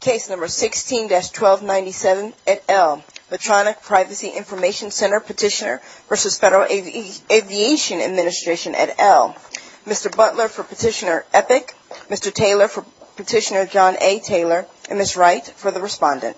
16-1297, Petitioner v. Federal Aviation Administration Butler v. Petitioner Epic, Taylor v. Petitioner John A. Taylor, Wright v. Respondent Petitioner v. Federal Aviation Administration Petitioner v. Petitioner Electronic Privacy Information Center Jeremy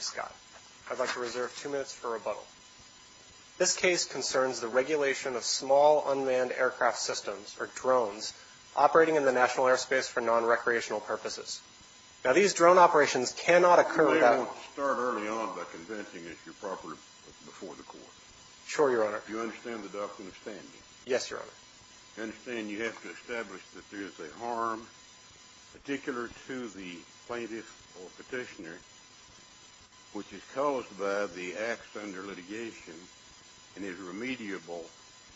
Scott I'd like to reserve two minutes for rebuttal. This case concerns the regulation of small unmanned aircraft systems, or drones, operating in the national airspace for non-recreational purposes. Now, these drone operations cannot occur without... Let me start early on by convincing that you're proper before the court. Sure, Your Honor. Do you understand the doctrine of standing? Yes, Your Honor. I understand you have to establish that there is a harm, particular to the plaintiff or petitioner, which is caused by the acts under litigation and is remediable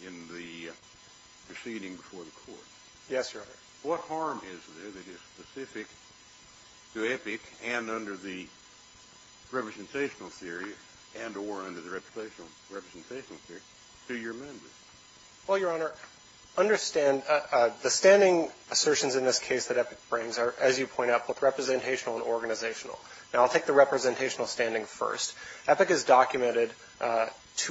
in the proceeding before the court. Yes, Your Honor. What harm is there that is specific to Epic and under the representational theory and or under the representational theory to your members? Well, Your Honor, understand the standing assertions in this case that Epic brings are, as you point out, both representational and organizational. Now, I'll take the representational standing first. Epic has documented,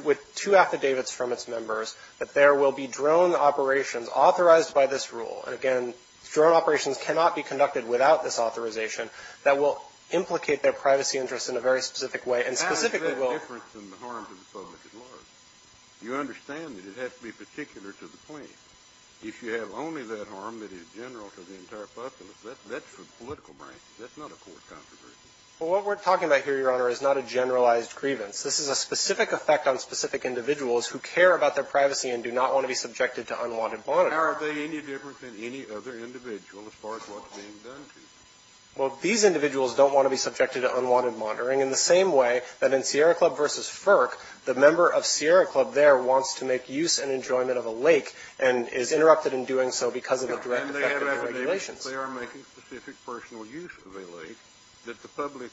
with two affidavits from its members, that there will be drone operations authorized by this rule. And, again, drone operations cannot be conducted without this authorization that will implicate their privacy interests in a very specific way and specifically will... How is there a difference in the harm to the public at large? You understand that it has to be particular to the plaintiff. If you have only that harm that is general to the entire public, that's for political purposes. That's not a court-counseled version. Well, what we're talking about here, Your Honor, is not a generalized grievance. This is a specific effect on specific individuals who care about their privacy and do not want to be subjected to unwanted monitoring. How are they any different than any other individual as far as what's being done to them? Well, these individuals don't want to be subjected to unwanted monitoring in the same way that in Sierra Club versus FERC, the member of Sierra Club there wants to make use and enjoyment of a lake and is interrupted in doing so because of the direct effect of the regulations. It's not that they are making specific personal use of a lake, that the public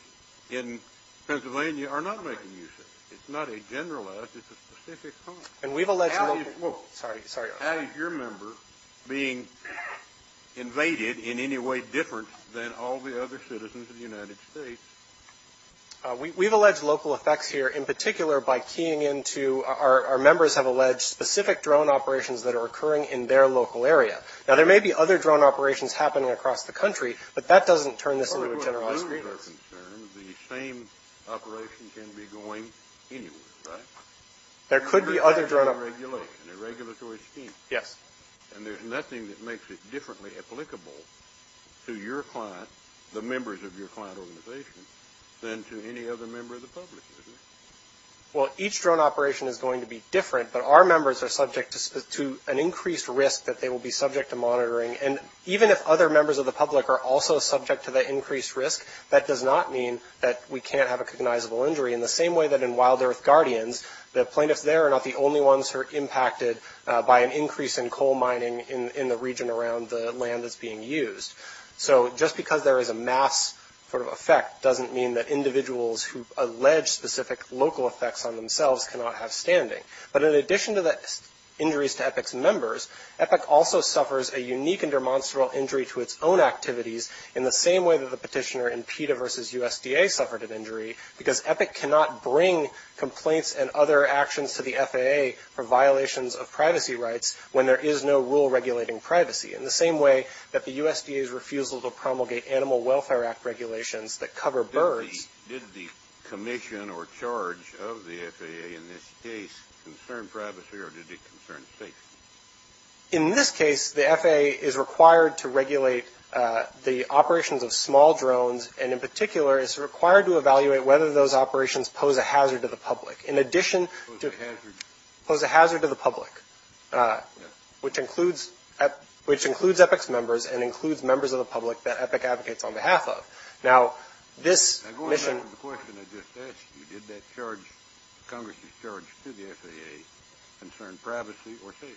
in Pennsylvania are not making use of it. It's not a generalized, it's a specific harm. And we've alleged... Sorry, sorry. How is your member being invaded in any way different than all the other citizens of the United States? We've alleged local effects here in particular by keying into... Our members have alleged specific drone operations that are occurring in their local area. Now, there may be other drone operations happening across the country, but that doesn't turn this into a generalized grievance. As far as our members are concerned, the same operation can be going anywhere, right? There could be other drone operations. A regulatory scheme. Yes. And there's nothing that makes it differently applicable to your client, the members of your client organization, than to any other member of the public, is there? Well, each drone operation is going to be different, but our members are subject to an increased risk that they will be subject to monitoring. And even if other members of the public are also subject to the increased risk, that does not mean that we can't have a cognizable injury. In the same way that in Wild Earth Guardians, the plaintiffs there are not the only ones who are impacted by an increase in coal mining in the region around the land that's being used. So just because there is a mass sort of effect doesn't mean that individuals who allege specific local effects on themselves cannot have standing. But in addition to the injuries to EPIC's members, EPIC also suffers a unique and demonstrable injury to its own activities, in the same way that the petitioner in PETA versus USDA suffered an injury, because EPIC cannot bring complaints and other actions to the FAA for violations of privacy rights when there is no rule regulating privacy. In the same way that the USDA's refusals of promulgate Animal Welfare Act regulations that cover birds. So did the commission or charge of the FAA in this case concern privacy or did it concern safety? In this case, the FAA is required to regulate the operations of small drones, and in particular it's required to evaluate whether those operations pose a hazard to the public. In addition to... Pose a hazard. Pose a hazard to the public, which includes EPIC's members and includes members of the public that EPIC advocates on behalf of. Now this... I'm going back to the question of the statute. Did that charge, Congress' charge to the FAA, concern privacy or safety?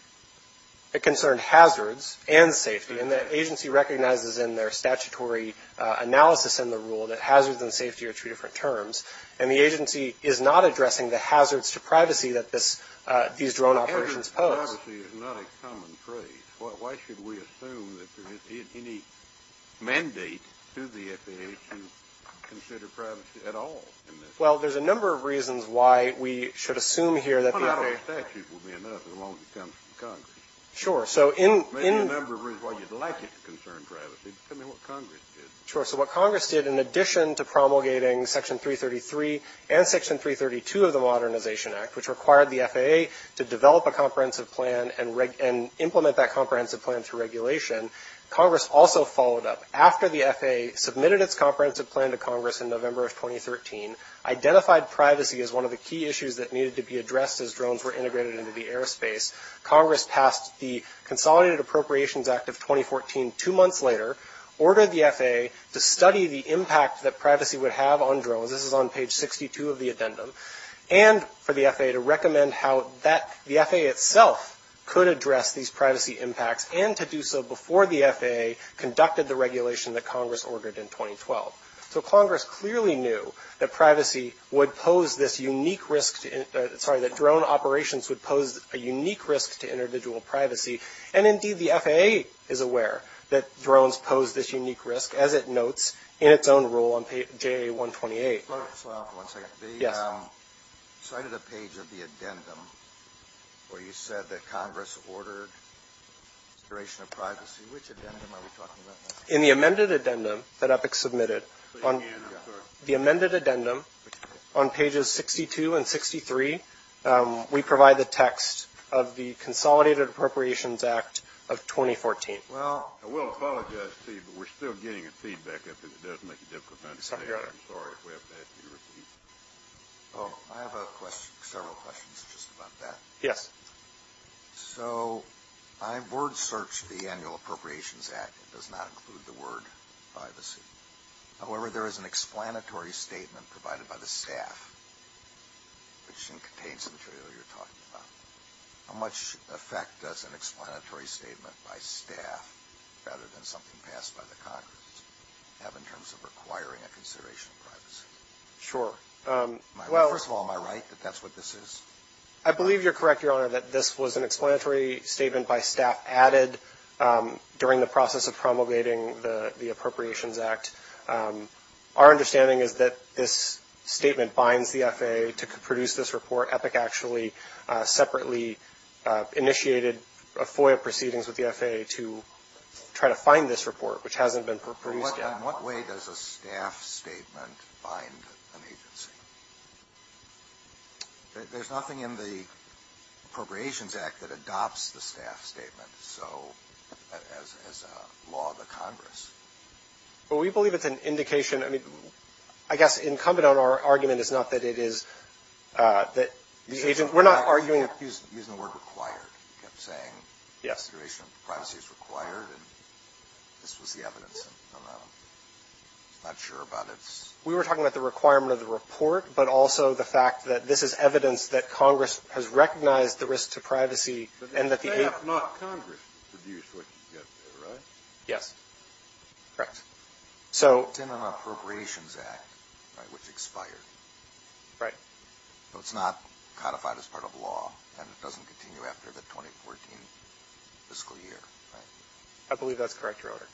It concerned hazards and safety, and the agency recognizes in their statutory analysis in the rule that hazards and safety are two different terms, and the agency is not addressing the hazards to privacy that these drone operations pose. Hazards to privacy is not a common phrase. Why should we assume that there is any mandate to the FAA to consider privacy at all? Well, there's a number of reasons why we should assume here that... A lot of these statutes will be enough as long as it comes from Congress. Sure. Maybe a number of reasons why you'd like it to concern privacy, depending on what Congress did. Sure. So what Congress did in addition to promulgating Section 333 and Section 332 of the Modernization Act, which required the FAA to develop a comprehensive plan and implement that comprehensive plan through regulation, Congress also followed up after the FAA submitted its comprehensive plan to Congress in November of 2013, identified privacy as one of the key issues that needed to be addressed as drones were integrated into the airspace. Congress passed the Consolidated Appropriations Act of 2014 two months later, ordered the FAA to study the impact that privacy would have on drones. This is on page 62 of the addendum. And for the FAA to recommend how the FAA itself could address these privacy impacts and to do so before the FAA conducted the regulation that Congress ordered in 2012. So Congress clearly knew that drone operations would pose a unique risk to individual privacy, and indeed the FAA is aware that drones pose this unique risk, as it notes in its own rule on PA 128. One second. The side of the page of the addendum where you said that Congress ordered consideration of privacy, which addendum are we talking about? In the amended addendum that EPIC submitted, the amended addendum on pages 62 and 63, we provide the text of the Consolidated Appropriations Act of 2014. I will apologize, Steve, but we're still getting your feedback. I think it does make it difficult to understand. I'm sorry if we have to ask you to repeat. I have several questions just about that. Yes. So I word-searched the Annual Appropriations Act. It does not include the word privacy. However, there is an explanatory statement provided by the staff, which contains material you're talking about. How much effect does an explanatory statement by staff, rather than something passed by the Congress, have in terms of requiring a consideration of privacy? Sure. First of all, am I right that that's what this is? I believe you're correct, Your Honor, that this was an explanatory statement by staff added during the process of promulgating the Appropriations Act. Our understanding is that this statement binds the FAA to produce this report. So EPIC actually separately initiated a FOIA proceedings with the FAA to try to find this report, which hasn't been produced yet. So in what way does a staff statement bind an agency? There's nothing in the Appropriations Act that adopts the staff statement as a law of the Congress. We believe it's an indication. I guess incumbent on our argument is not that it is. We're not arguing. He's using the word required. He's saying consideration of privacy is required. This was the evidence. I'm not sure about it. We were talking about the requirement of the report, but also the fact that this is evidence that Congress has recognized the risk to privacy. But the staff, not Congress, produced what you said there, right? Yes. Correct. It's in the Appropriations Act, but it was expired. Right. So it's not codified as part of the law, and it doesn't continue after the 2014 fiscal year, right? I believe that's correct, Your Honor.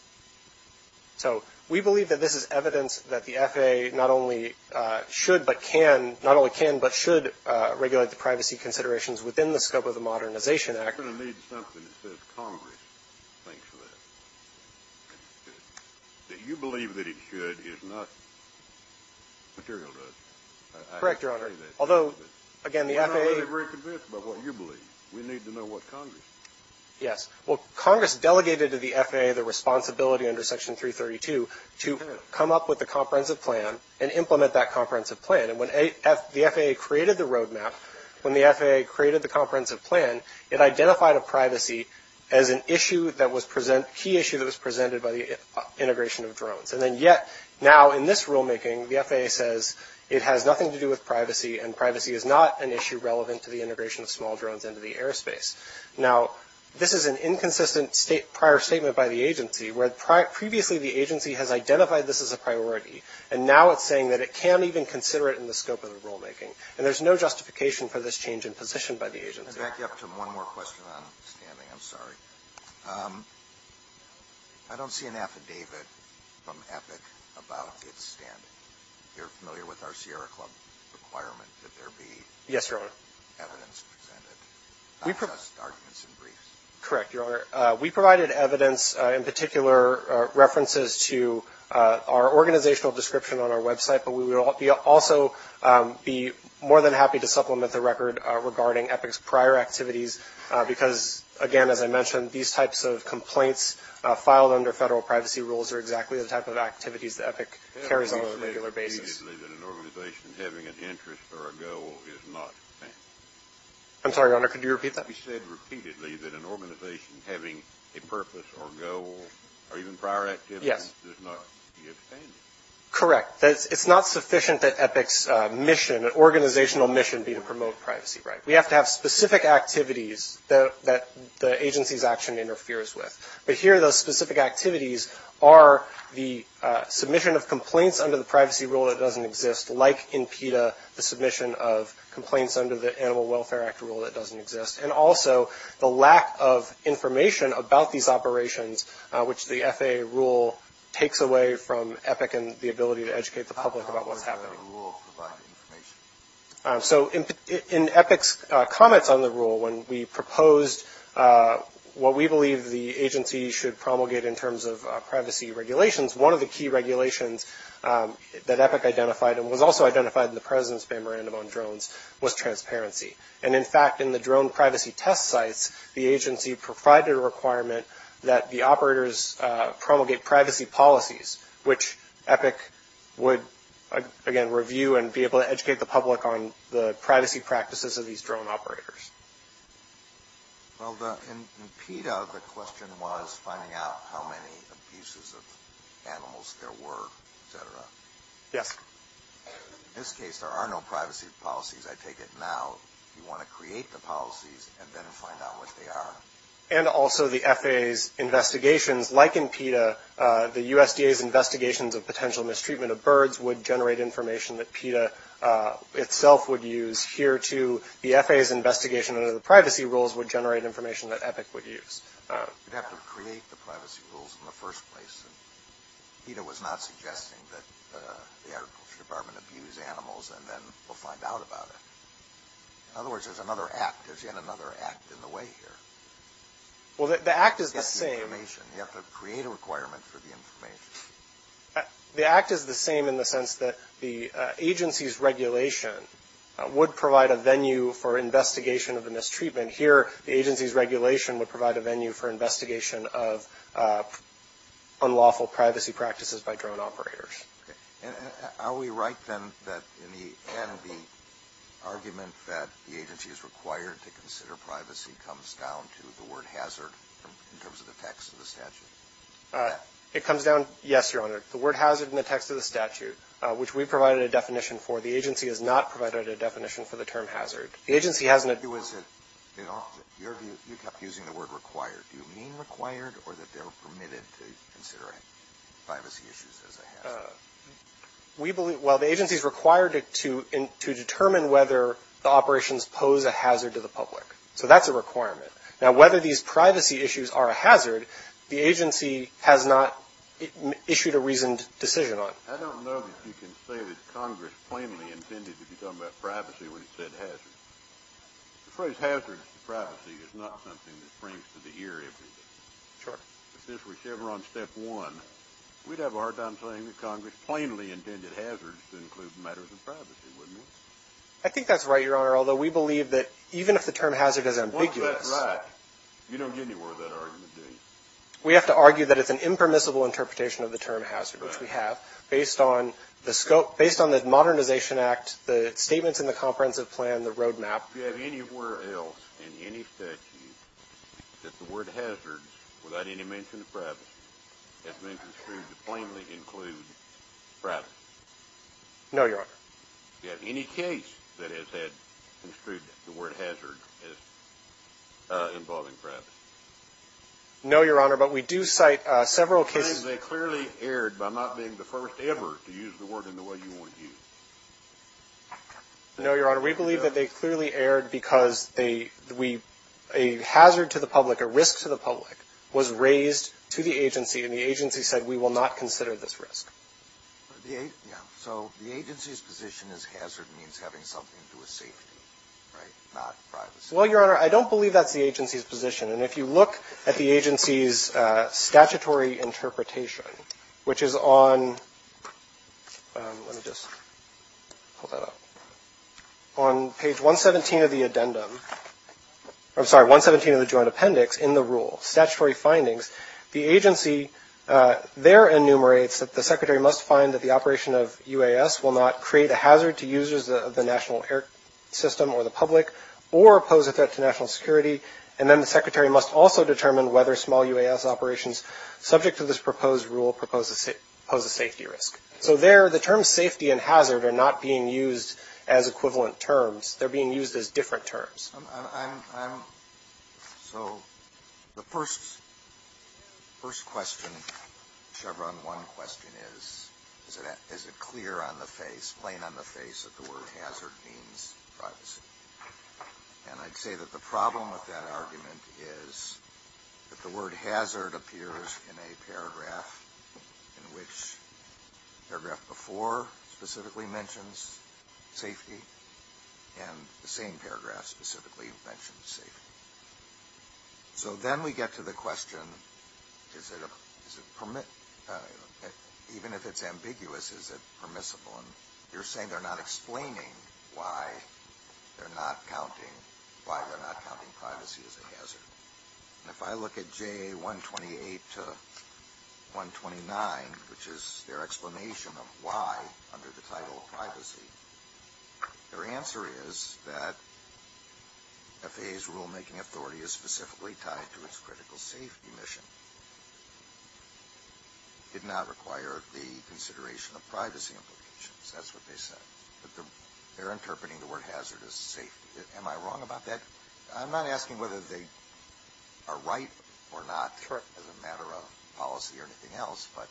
So we believe that this is evidence that the FAA not only should but can, not only can but should regulate the privacy considerations within the scope of the Modernization Act. I'm going to need something that says Congress thinks that. That you believe that it should is not material to us. Correct, Your Honor. Although, again, the FAA is very convinced about what you believe. We need to know what Congress thinks. Yes. Well, Congress delegated to the FAA the responsibility under Section 332 to come up with a comprehensive plan and implement that comprehensive plan. And when the FAA created the roadmap, when the FAA created the comprehensive plan, it identified a privacy as a key issue that was presented by the integration of drones. And then yet, now in this rulemaking, the FAA says it has nothing to do with privacy, and privacy is not an issue relevant to the integration of small drones into the airspace. Now, this is an inconsistent prior statement by the agency, where previously the agency has identified this as a priority, and now it's saying that it can't even consider it in the scope of the rulemaking. I'm going to back you up to one more question on scanning. I'm sorry. I don't see an affidavit from EPIC about data scanning. You're familiar with our Sierra Club requirement that there be evidence presented, not just arguments and briefs. Correct, Your Honor. We provided evidence, in particular references to our organizational description on our website, but we would also be more than happy to supplement the record regarding EPIC's prior activities, because, again, as I mentioned, these types of complaints filed under federal privacy rules are exactly the type of activities that EPIC carries on a regular basis. You said repeatedly that an organization having an interest or a goal is not safe. I'm sorry, Your Honor. Could you repeat that? You said repeatedly that an organization having a purpose or goal or even prior activities is not safe. Correct. It's not sufficient that EPIC's mission, that organizational mission, be to promote privacy, right? We have to have specific activities that the agency's action interferes with, but here those specific activities are the submission of complaints under the privacy rule that doesn't exist, like in PETA the submission of complaints under the Animal Welfare Act rule that doesn't exist, and also the lack of information about these operations, which the FAA rule takes away from EPIC and the ability to educate the public about what's happening. So in EPIC's comments on the rule, when we proposed what we believe the agency should promulgate in terms of privacy regulations, one of the key regulations that EPIC identified and was also identified in the President's memorandum on drones was transparency. And, in fact, in the drone privacy test sites, the agency provided a requirement that the operators promulgate privacy policies, which EPIC would, again, review and be able to educate the public on the privacy practices of these drone operators. Well, in PETA, the question was finding out how many abuses of animals there were, et cetera. Yes. In this case, there are no privacy policies. I take it now you want to create the policies and then find out what they are. And also the FAA's investigations, like in PETA, the USDA's investigations of potential mistreatment of birds would generate information that PETA itself would use. Here, too, the FAA's investigation of the privacy rules would generate information that EPIC would use. We'd have to create the privacy rules in the first place. PETA was not suggesting that the Agriculture Department abuse animals and then we'll find out about it. In other words, there's another act. There's yet another act in the way here. Well, the act is the same. You have to create a requirement for the information. The act is the same in the sense that the agency's regulation would provide a venue for investigation of the mistreatment. And here, the agency's regulation would provide a venue for investigation of unlawful privacy practices by drone operators. Okay. Are we right, then, that in the end, the argument that the agency is required to consider privacy comes down to the word hazard in terms of the text of the statute? It comes down, yes, Your Honor. The word hazard in the text of the statute, which we provided a definition for, the agency has not provided a definition for the term hazard. You kept using the word required. Do you mean required or that they're permitted to consider privacy issues as a hazard? Well, the agency's required to determine whether the operations pose a hazard to the public. So that's a requirement. Now, whether these privacy issues are a hazard, the agency has not issued a reasoned decision on it. I don't know that you can say that Congress plainly intended to be talking about privacy when you said hazard. The phrase hazard to privacy is not something that springs to the ear every day. Sure. If this were ever on step one, we'd have a hard time saying that Congress plainly intended hazards to include matters of privacy, wouldn't we? I think that's right, Your Honor, although we believe that even if the term hazard is ambiguous— Well, that's right. You don't get anywhere with that argument, do you? We have to argue that it's an impermissible interpretation of the term hazard, which we have, based on the modernization act, the statements in the comprehensive plan, the roadmap. Do you have anywhere else in any statute that the word hazard, without any mention of privacy, has been construed to plainly include privacy? No, Your Honor. Do you have any case that has had construed the word hazard as involving privacy? No, Your Honor, but we do cite several cases— We believe they clearly erred by not being the first ever to use the word in the way you want to use it. No, Your Honor. We believe that they clearly erred because a hazard to the public, a risk to the public, was raised to the agency, and the agency said we will not consider this risk. So the agency's position is hazard means having something to a safety, right, not privacy. Well, Your Honor, I don't believe that's the agency's position, and if you look at the agency's statutory interpretation, which is on page 117 of the joint appendix in the rule, statutory findings, the agency there enumerates that the secretary must find that the operation of UAS will not create a hazard to users of the national air system or the public or pose a threat to national security, and then the secretary must also determine whether small UAS operations subject to this proposed rule pose a safety risk. So there, the terms safety and hazard are not being used as equivalent terms. They're being used as different terms. So the first question, Chevron 1 question, is, is it clear on the face, plain on the face, that the word hazard means privacy? And I'd say that the problem with that argument is that the word hazard appears in a paragraph in which the paragraph before specifically mentions safety and the same paragraph specifically mentions safety. So then we get to the question, is it permissible, even if it's ambiguous, is it permissible? And you're saying they're not explaining why they're not counting privacy as a hazard. If I look at JA 128 to 129, which is their explanation of why under the title privacy, their answer is that FAA's rulemaking authority is specifically tied to its critical safety mission. It did not require the consideration of privacy implications. That's what they said. They're interpreting the word hazard as safety. Am I wrong about that? I'm not asking whether they are right or not as a matter of policy or anything else, but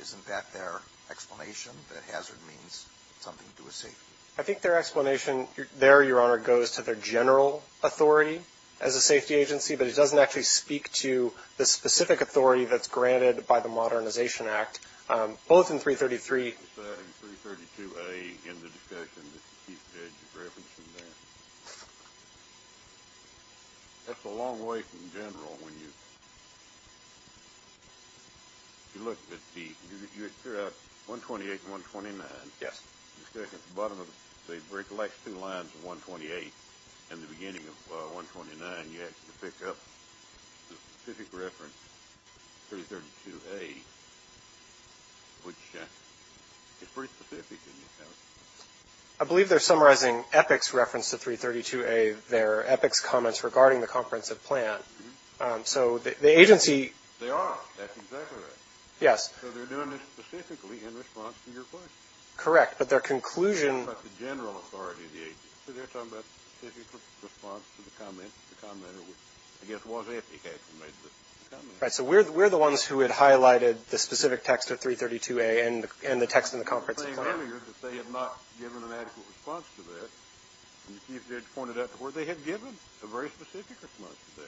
isn't that their explanation that hazard means something to a safety? I think their explanation there, Your Honor, goes to their general authority as a safety agency, but it doesn't actually speak to the specific authority that's granted by the Modernization Act, both in 333- It's 332-A in the discussion. That's a long way from general when you look at the 128 and 129. Yes. The discussion at the bottom of it, they recollect two lines of 128. In the beginning of 129, you had to pick up the specific reference, 332-A, which is pretty specific in itself. I believe they're summarizing EPIC's reference to 332-A. They're EPIC's comments regarding the comprehensive plan. So the agency- They are. That's exactly right. Yes. So they're doing this specifically in response to your question. Correct, but their conclusion- They're talking about the general authority of the agency. They're talking about the specific response to the comments. I guess it was EPIC that made this comment. Right. So we're the ones who had highlighted the specific text of 332-A and the text in the conference. The thing earlier is that they had not given an actual response to this. You had pointed out before they had given a very specific response to that,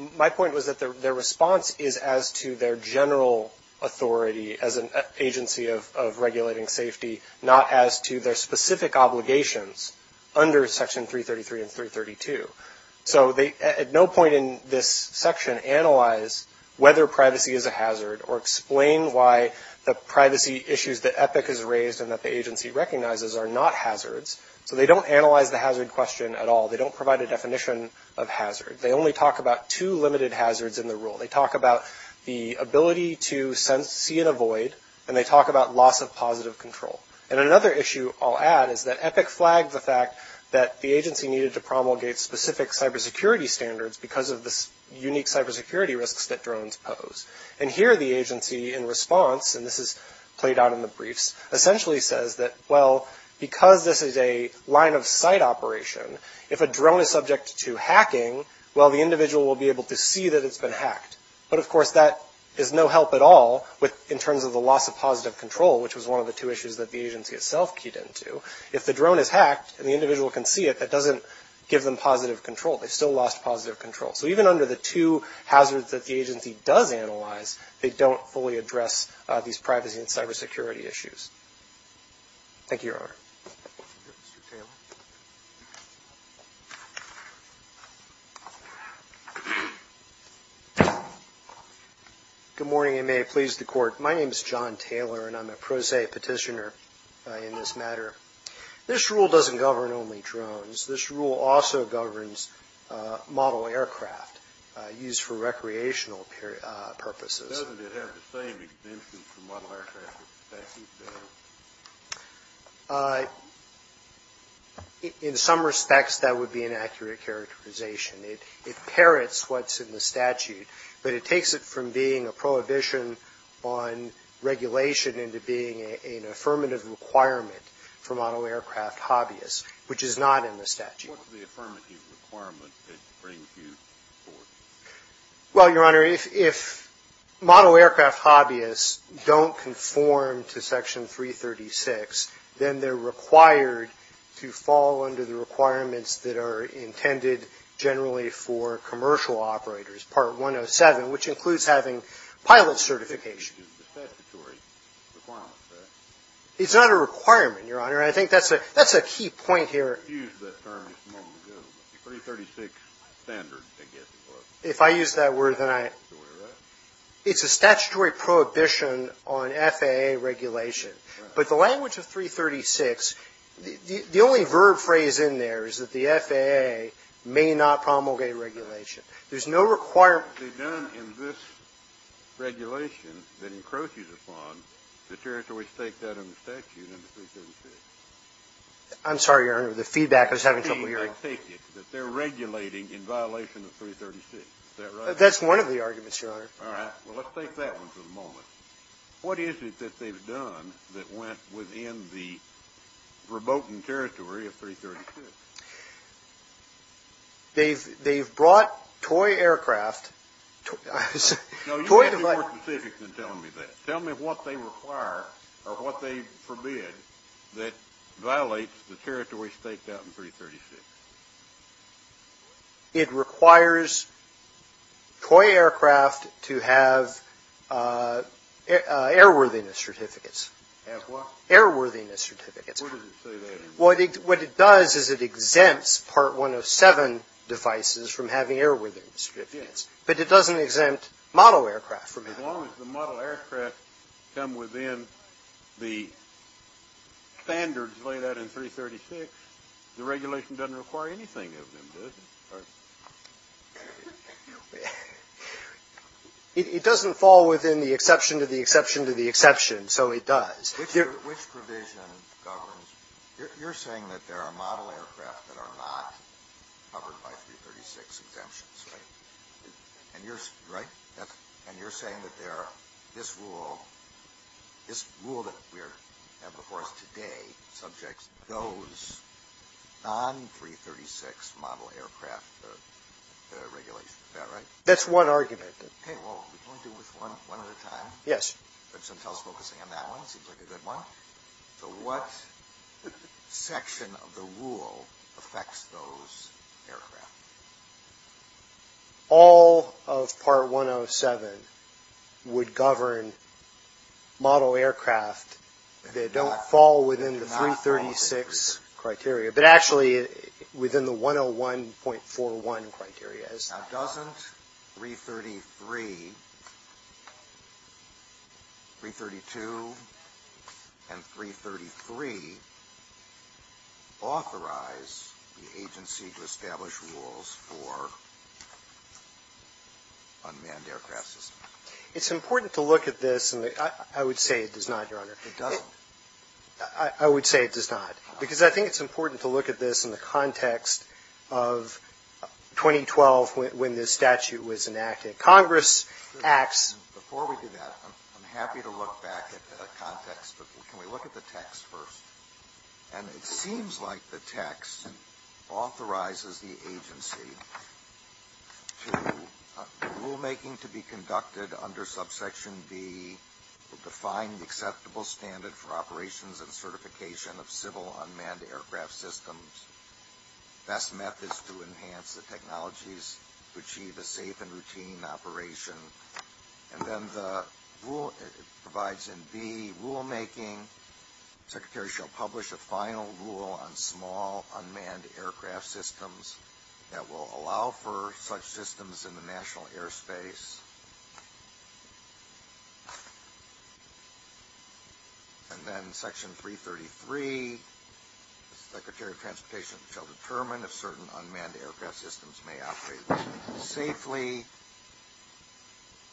hadn't they? My point was that their response is as to their general authority as an agency of regulating safety, not as to their specific obligations under Section 333 and 332. So at no point in this section analyze whether privacy is a hazard or explain why the privacy issues that EPIC has raised and that the agency recognizes are not hazards. So they don't analyze the hazard question at all. They don't provide a definition of hazard. They only talk about two limited hazards in the rule. They talk about the ability to sense, see, and avoid. And they talk about loss of positive control. And another issue I'll add is that EPIC flags the fact that the agency needed to promulgate specific cybersecurity standards because of the unique cybersecurity risks that drones pose. And here the agency in response, and this is played out in the briefs, essentially says that, well, because this is a line-of-sight operation, if a drone is subject to hacking, well, the individual will be able to see that it's been hacked. But, of course, that is no help at all in terms of the loss of positive control, which was one of the two issues that the agency itself keyed into. If the drone is hacked and the individual can see it, that doesn't give them positive control. They still lost positive control. So even under the two hazards that the agency does analyze, they don't fully address these privacy and cybersecurity issues. Thank you, Your Honor. Good morning, and may it please the Court. My name is John Taylor, and I'm a pro se petitioner in this matter. This rule doesn't govern only drones. This rule also governs model aircraft used for recreational purposes. But doesn't it have the same exemptions for model aircraft as the statute does? In some respects, that would be an accurate characterization. It parrots what's in the statute, but it takes it from being a prohibition on regulation into being an affirmative requirement for model aircraft hobbyists, which is not in the statute. What's the affirmative requirement that brings you to the Court? Well, Your Honor, if model aircraft hobbyists don't conform to Section 336, then they're required to fall under the requirements that are intended generally for commercial operators, Part 107, which includes having pilot certification. It's not a requirement, Your Honor. I think that's a key point here. If I use that word, then I... It's a statutory prohibition on FAA regulation. But the language of 336, the only verb phrase in there is that the FAA may not promulgate regulation. There's no requirement... I'm sorry, Your Honor. The feedback is having trouble hearing. Is that right? That's one of the arguments, Your Honor. All right. Well, let's take that one for the moment. What is it that they've done that went within the verboten territory of 336? They've brought toy aircraft... No, you're more specific than telling me that. Tell me what they require or what they forbid that violates the territory stated out in 336. It requires toy aircraft to have airworthiness certificates. Have what? Airworthiness certificates. What does it say there? What it does is it exempts Part 107 devices from having airworthiness certificates, but it doesn't exempt model aircraft from having them. As long as the model aircraft come within the standards laid out in 336, the regulation doesn't require anything of them, does it? It doesn't fall within the exception to the exception to the exception, so it does. Which provision governs? You're saying that there are model aircraft that are not covered by 336 exemptions, right? Right. And you're saying that this rule that we have before us today subjects those non-336 model aircraft regulations. Is that right? That's one argument. Okay, well, let's do this one more time. Yes. Since I was focusing on that one, it seems like a good one. What section of the rule affects those aircraft? All of Part 107 would govern model aircraft that don't fall within the 336 criteria, but actually within the 101.41 criteria. Now, doesn't 333, 332, and 333 authorize the agency to establish rules for unmanned aircraft systems? It's important to look at this, and I would say it does not, Your Honor. It doesn't? I would say it does not. Because I think it's important to look at this in the context of 2012 when this statute was enacted. Congress acts – Before we do that, I'm happy to look back at the context, but can we look at the text first? And it seems like the text authorizes the agency to – for operations and certification of civil unmanned aircraft systems. Best methods to enhance the technologies to achieve a safe and routine operation. And then the rule provides in B, rulemaking. Secretary shall publish a final rule on small unmanned aircraft systems that will allow for such systems in the national airspace. And then section 333, secretary of transportation shall determine if certain unmanned aircraft systems may operate safely.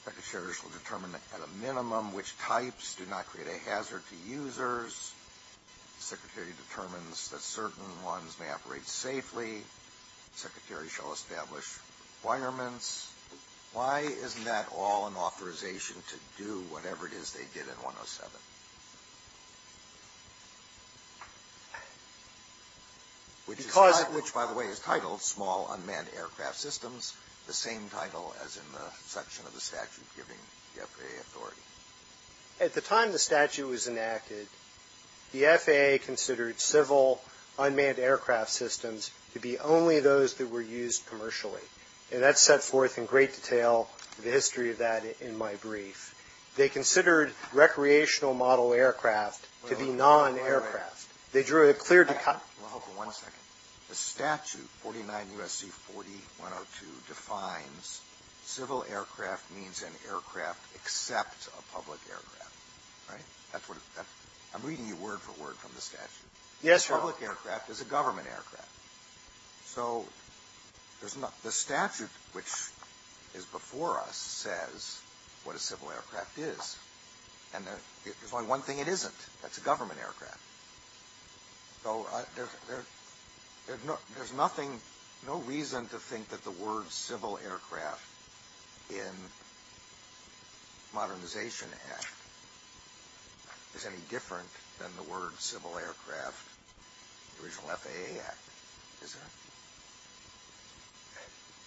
Secretary shall determine at a minimum which types do not create a hazard to users. Secretary determines that certain ones may operate safely. Secretary shall establish requirements. Why isn't that all an authorization to do whatever it is they did in 107? Which, by the way, is titled small unmanned aircraft systems, the same title as in the section of the statute giving the FAA authority. At the time the statute was enacted, the FAA considered civil unmanned aircraft systems to be only those that were used commercially. And that's set forth in great detail in the history of that in my brief. They considered recreational model aircraft to be non-aircraft. They drew a clear – One second. The statute 49 U.S.C. 4102 defines civil aircraft means an aircraft except a public aircraft, right? That's what – I'm reading you word for word from the statute. Yes, sir. A public aircraft is a government aircraft. So the statute, which is before us, says what a civil aircraft is. And there's only one thing it isn't. It's a government aircraft. So there's nothing – no reason to think that the word civil aircraft in modernization act is any different than the word civil aircraft in the original FAA act, is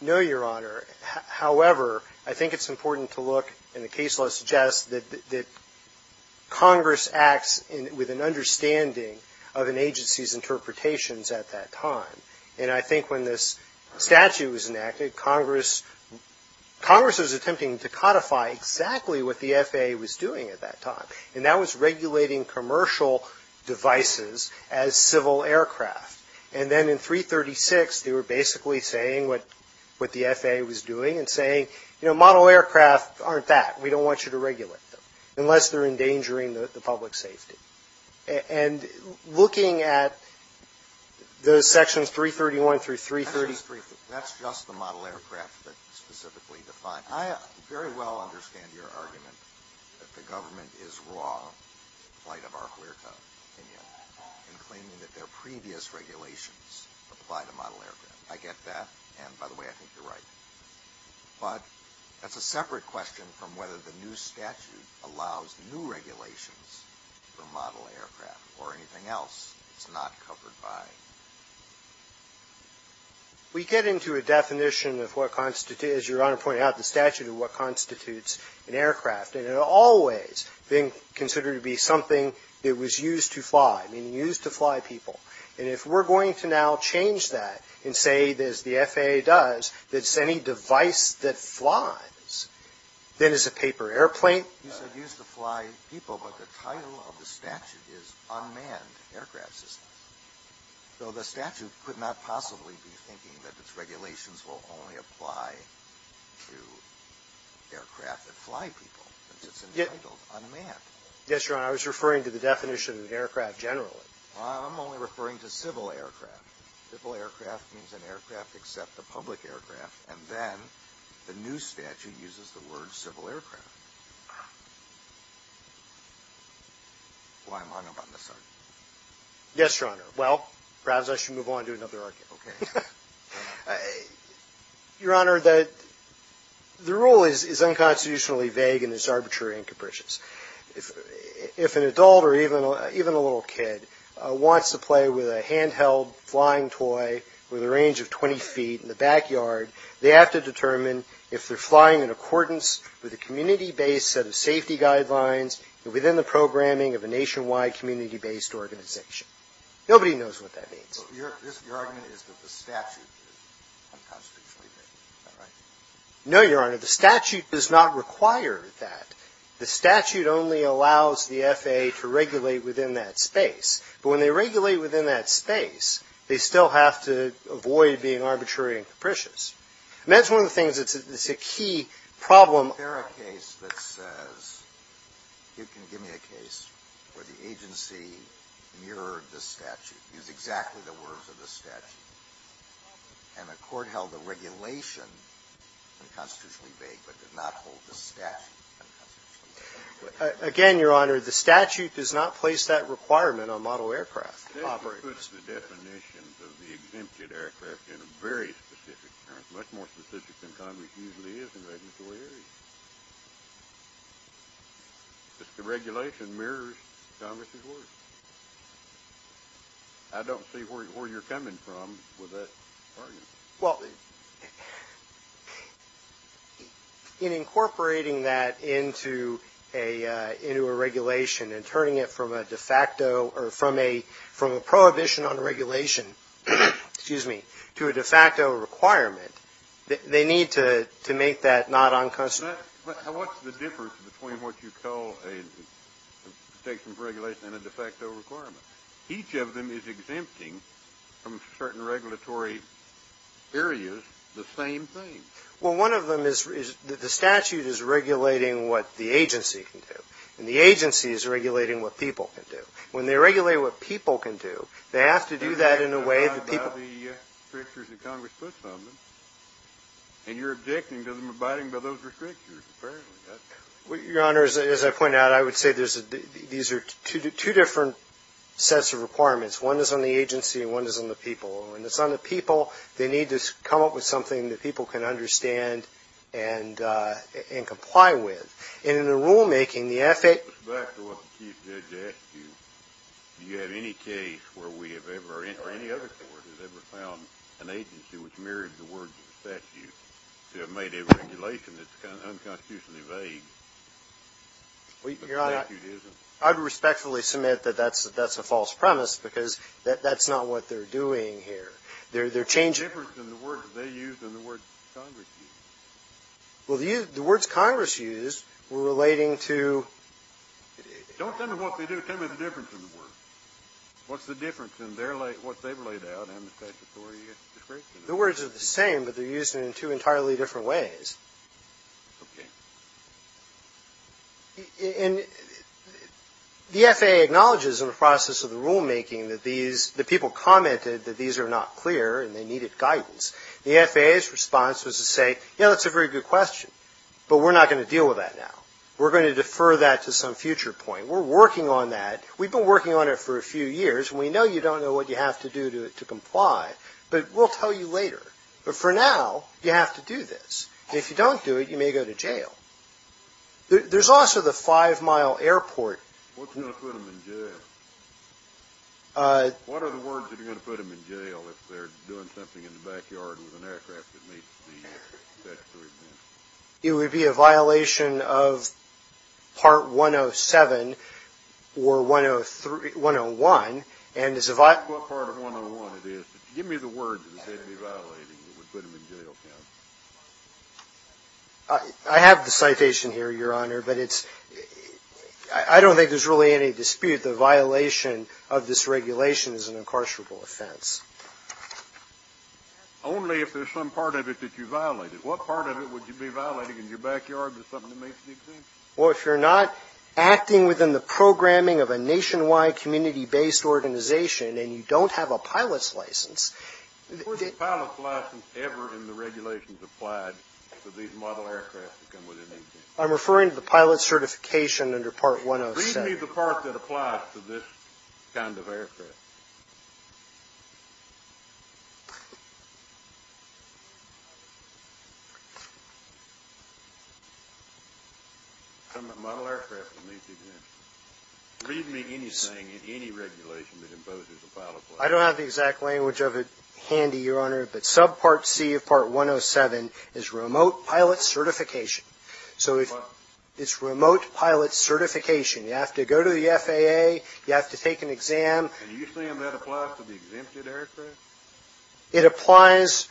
there? No, Your Honor. However, I think it's important to look, and the case law suggests, that Congress acts with an understanding of an agency's interpretations at that time. And I think when this statute was enacted, Congress was attempting to codify exactly what the FAA was doing at that time, and that was regulating commercial devices as civil aircraft. And then in 336, they were basically saying what the FAA was doing and saying, you know, model aircraft aren't that. We don't want you to regulate them unless they're endangering the public safety. And looking at the sections 331 through 333 – that's just the model aircraft that's specifically defined. I very well understand your argument that the government is wrong in light of our clear-cut opinion in claiming that their previous regulations apply to model aircraft. I get that, and by the way, I think you're right. But that's a separate question from whether the new statute allows new regulations for model aircraft or anything else that's not covered by it. We get into a definition of what constitutes – as Your Honor pointed out, the statute of what constitutes an aircraft, and it has always been considered to be something that was used to fly, and used to fly people. And if we're going to now change that and say, as the FAA does, that any device that flies, then it's a paper airplane. It's used to fly people, but the title of the statute is unmanned aircraft systems. So the statute could not possibly be thinking that its regulations will only apply to aircraft that fly people because it's entitled unmanned. Yes, Your Honor, I was referring to the definition of aircraft generally. I'm only referring to civil aircraft. Civil aircraft means an aircraft except the public aircraft, and then the new statute uses the word civil aircraft. Yes, Your Honor. Yes, Your Honor. Well, perhaps I should move on to another argument. Okay. Your Honor, the rule is unconstitutionally vague and is arbitrary and capricious. If an adult or even a little kid wants to play with a handheld flying toy with a range of 20 feet in the backyard, they have to determine if they're flying in accordance with a community-based set of safety guidelines within the programming of a nationwide community-based organization. Nobody knows what that means. Your argument is that the statute is unconstitutionally vague. No, Your Honor. The statute does not require that. The statute only allows the FAA to regulate within that space. But when they regulate within that space, they still have to avoid being arbitrary and capricious. That's one of the things that's a key problem. Is there a case that says, give me a case where the agency mirrored the statute, used exactly the words of the statute, and the court held the regulation unconstitutionally vague but did not hold the statute. Again, Your Honor, the statute does not place that requirement on model aircraft. This puts the definition of the exempted aircraft in a very specific term, much more specific than Congress usually is in regulatory areas. The regulation mirrors Congress's words. I don't see where you're coming from with that argument. Well, in incorporating that into a regulation and turning it from a prohibition on regulation to a de facto requirement, they need to make that not unconstitutional. But what's the difference between what you call a protection of regulation and a de facto requirement? Each of them is exempting from certain regulatory areas the same thing. Well, one of them is that the statute is regulating what the agency can do. And the agency is regulating what people can do. When they regulate what people can do, they have to do that in a way that people... You're talking about the restrictions that Congress puts on them. And you're objecting to them abiding by those restrictions, apparently. Well, Your Honor, as I point out, I would say these are two different sets of requirements. One is on the agency and one is on the people. When it's on the people, they need to come up with something that people can understand and comply with. And in the rulemaking, the ethic... Do you have any case where we have ever, or any other court has ever found an agency which mirrors the words of the statute to have made a regulation that's unconstitutionally vague? Your Honor, I would respectfully submit that that's a false premise because that's not what they're doing here. There's a difference in the words they use and the words Congress uses. Well, the words Congress used were relating to... Don't tell me what they do. Tell me the difference in the words. What's the difference in what they've laid out and the statutory... The words are the same, but they're used in two entirely different ways. Okay. And the FAA acknowledges in the process of the rulemaking that these... that people commented that these are not clear and they needed guidance. The FAA's response was to say, you know, that's a very good question, but we're not going to deal with that now. We're going to defer that to some future point. We're working on that. We've been working on it for a few years, and we know you don't know what you have to do to comply, but we'll tell you later. But for now, you have to do this. If you don't do it, you may go to jail. What's going to put them in jail? What are the words that are going to put them in jail if they're doing something in the backyard with an aircraft that meets the statutory limits? It would be a violation of Part 107 or 101, and it's a violation... What part of 101 it is. Give me the words that they'd be violating that would put them in jail, Ken. I have the citation here, Your Honor, but it's... I don't think there's really any dispute. The violation of this regulation is an incarcerable offense. Only if there's some part of it that you violated. What part of it would you be violating in your backyard that's something to make a decision? Well, if you're not acting within the programming of a nationwide community-based organization and you don't have a pilot's license... Where's the pilot's license ever in the regulations applied for these model aircraft to come within EPA? I'm referring to the pilot's certification under Part 107. Read me the part that applies to this kind of aircraft. Model aircraft to meet the... Read me anything in any regulation that imposes a pilot's license. I don't have the exact language of it handy, Your Honor, but subpart C of Part 107 is remote pilot certification. So it's remote pilot certification. You have to go to the FAA. You have to take an exam. Are you saying that applies to the exempted aircraft? It applies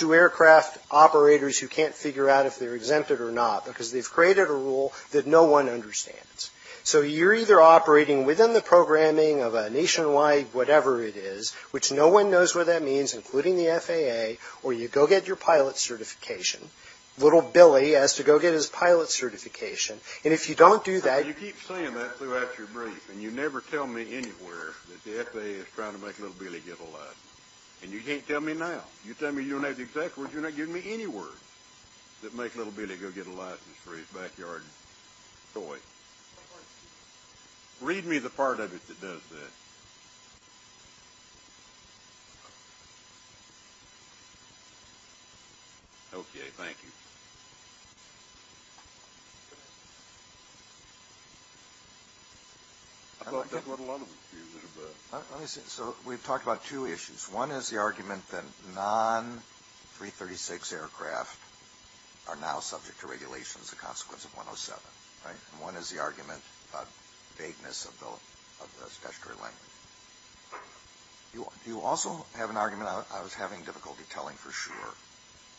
to aircraft operators who can't figure out if they're exempted or not because they've created a rule that no one understands. So you're either operating within the programming of a nationwide whatever it is, which no one knows what that means, including the FAA, or you go get your pilot's certification. Little Billy has to go get his pilot's certification. And if you don't do that... You keep saying that throughout your brief, and you never tell me anywhere that the FAA is trying to make Little Billy get a license. And you can't tell me now. You tell me you don't have the exact words. You're not giving me any words that make Little Billy go get a license for his backyard toy. Read me the part of it that does that. Okay, thank you. So we've talked about two issues. One is the argument that non-336 aircraft are now subject to regulations as a consequence of 107. And one is the argument about vagueness of the statutory length. You also have an argument, I was having difficulty telling for sure,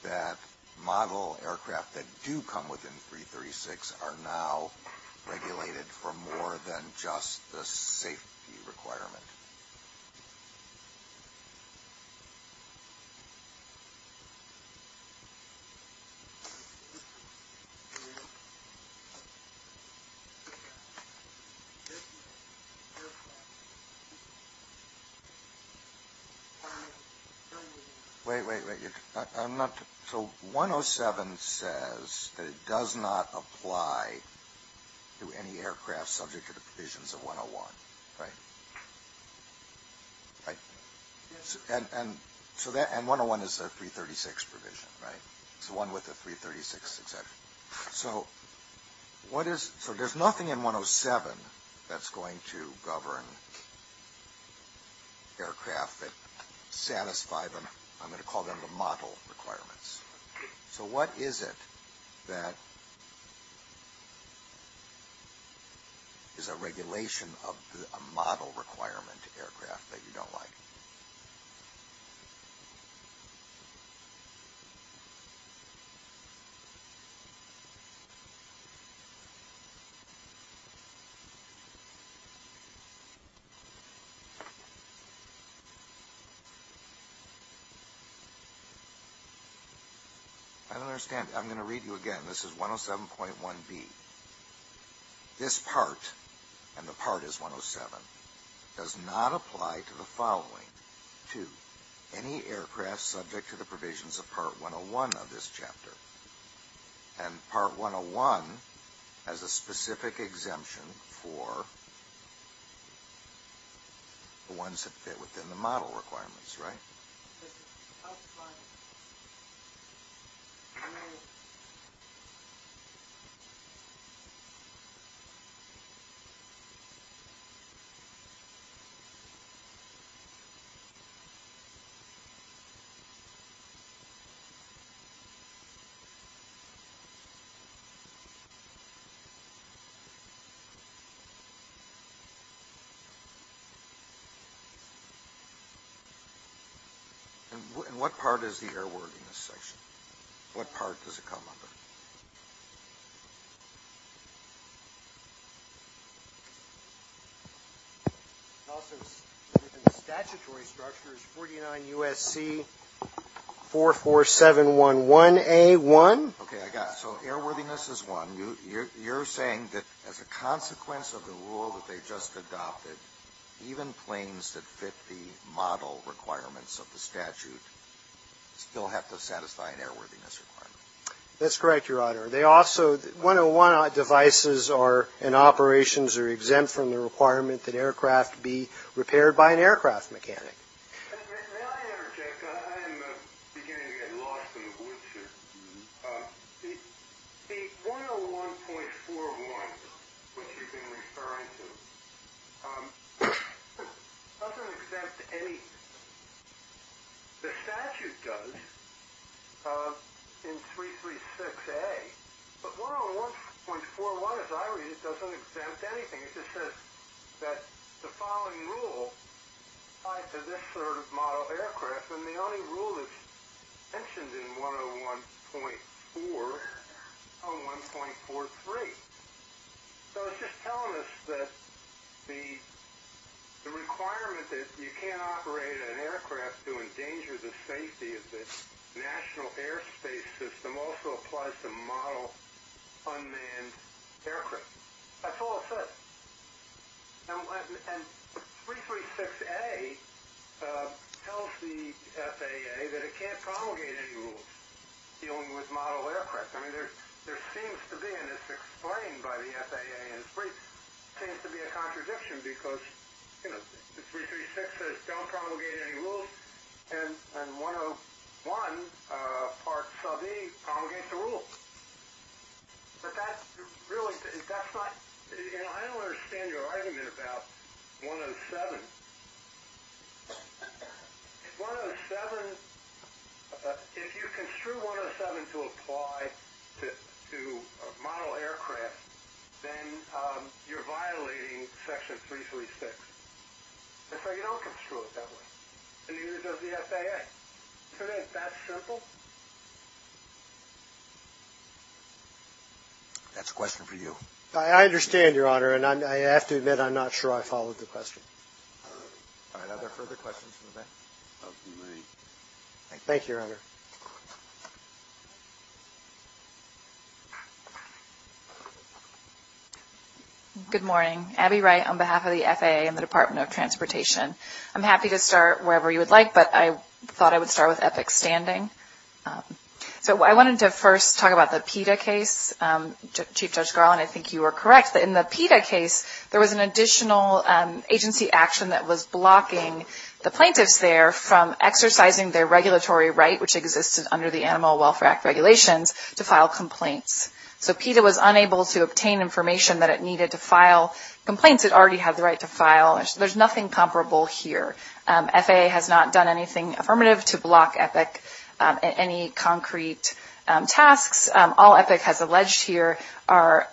that model aircraft that do come within 336 are now regulated for more than just the safety requirement. Wait, wait, wait. So 107 says that it does not apply to any aircraft subject to the provisions of 101, right? And 101 is the 336 provision, right? It's the one with the 336 exception. So there's nothing in 107 that's going to govern aircraft that satisfy them. I'm going to call them the model requirements. So what is it that is a regulation of a model requirement aircraft that you don't like? I don't understand. I'm going to read you again. This is 107.1b. This part, and the part is 107, does not apply to the following two, any aircraft subject to the provisions of part 101 of this chapter. And the part is 107. And part 101 has a specific exemption for the ones that fit within the model requirements, right? And what part is the airworthiness section? What part does it come under? Also, within the statutory structures, 49UST44711A1. Okay, I got it. So airworthiness is one. You're saying that as a consequence of the rule that they just adopted, even planes that fit the model requirements of the statute still have to satisfy an airworthiness requirement. That's correct. They also, 101 devices and operations are exempt from the requirement that aircraft be repaired by an aircraft mechanic. May I interject? I am beginning to get lost in the woodshed. The 101.41, which you've been referring to, doesn't exempt any. The statute does in 336A. But 101.41, as I read it, doesn't exempt anything. It just says that the following rule applies to this sort of model aircraft, and the only rule that's mentioned in 101.4 is 101.43. So it's just telling us that the requirement that you can't operate an aircraft to endanger the safety of the national airspace system also applies to model unmanned aircraft. That's all it says. And 336A tells the FAA that it can't promulgate any rules dealing with model aircraft. I mean, there seems to be, and it's explained by the FAA in the brief, seems to be a contradiction because, you know, 336 says don't promulgate any rules, and 101, part sub E, promulgates the rules. But that's really, that's not, you know, I don't understand your argument about 107. 107, if you construe 107 to apply to model aircraft, then you're violating Section 336. That's why you don't construe it that way. And you use it as the FAA. Isn't that simple? That's a question for you. I understand, Your Honor, and I have to admit I'm not sure I followed the question. Are there further questions from the back? Thank you, Your Honor. Good morning. Abby Wright on behalf of the FAA and the Department of Transportation. I'm happy to start wherever you would like, but I thought I would start with EPIC Standing. So I wanted to first talk about the PETA case. Chief Judge Garland, I think you were correct, but in the PETA case there was an additional agency action that was blocking the plaintiffs there from exercising their regulatory right, which existed under the Animal Welfare Act regulations, to file complaints. So PETA was unable to obtain information that it needed to file complaints it already had the right to file. There's nothing comparable here. FAA has not done anything affirmative to block EPIC in any concrete tasks. All EPIC has alleged here are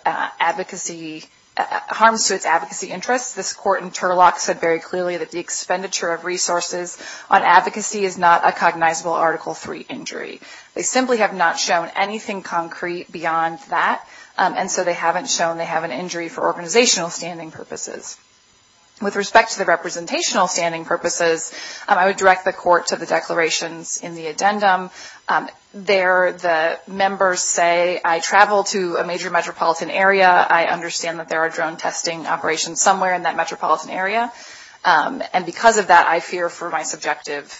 harm to its advocacy interests. This court in Turlock said very clearly that the expenditure of resources on advocacy is not a cognizable Article III injury. They simply have not shown anything concrete beyond that, and so they haven't shown they have an injury for organizational standing purposes. With respect to the representational standing purposes, I would direct the court to the declarations in the addendum. There the members say, I travel to a major metropolitan area. I understand that there are drone testing operations somewhere in that metropolitan area, and because of that I fear for my subjective,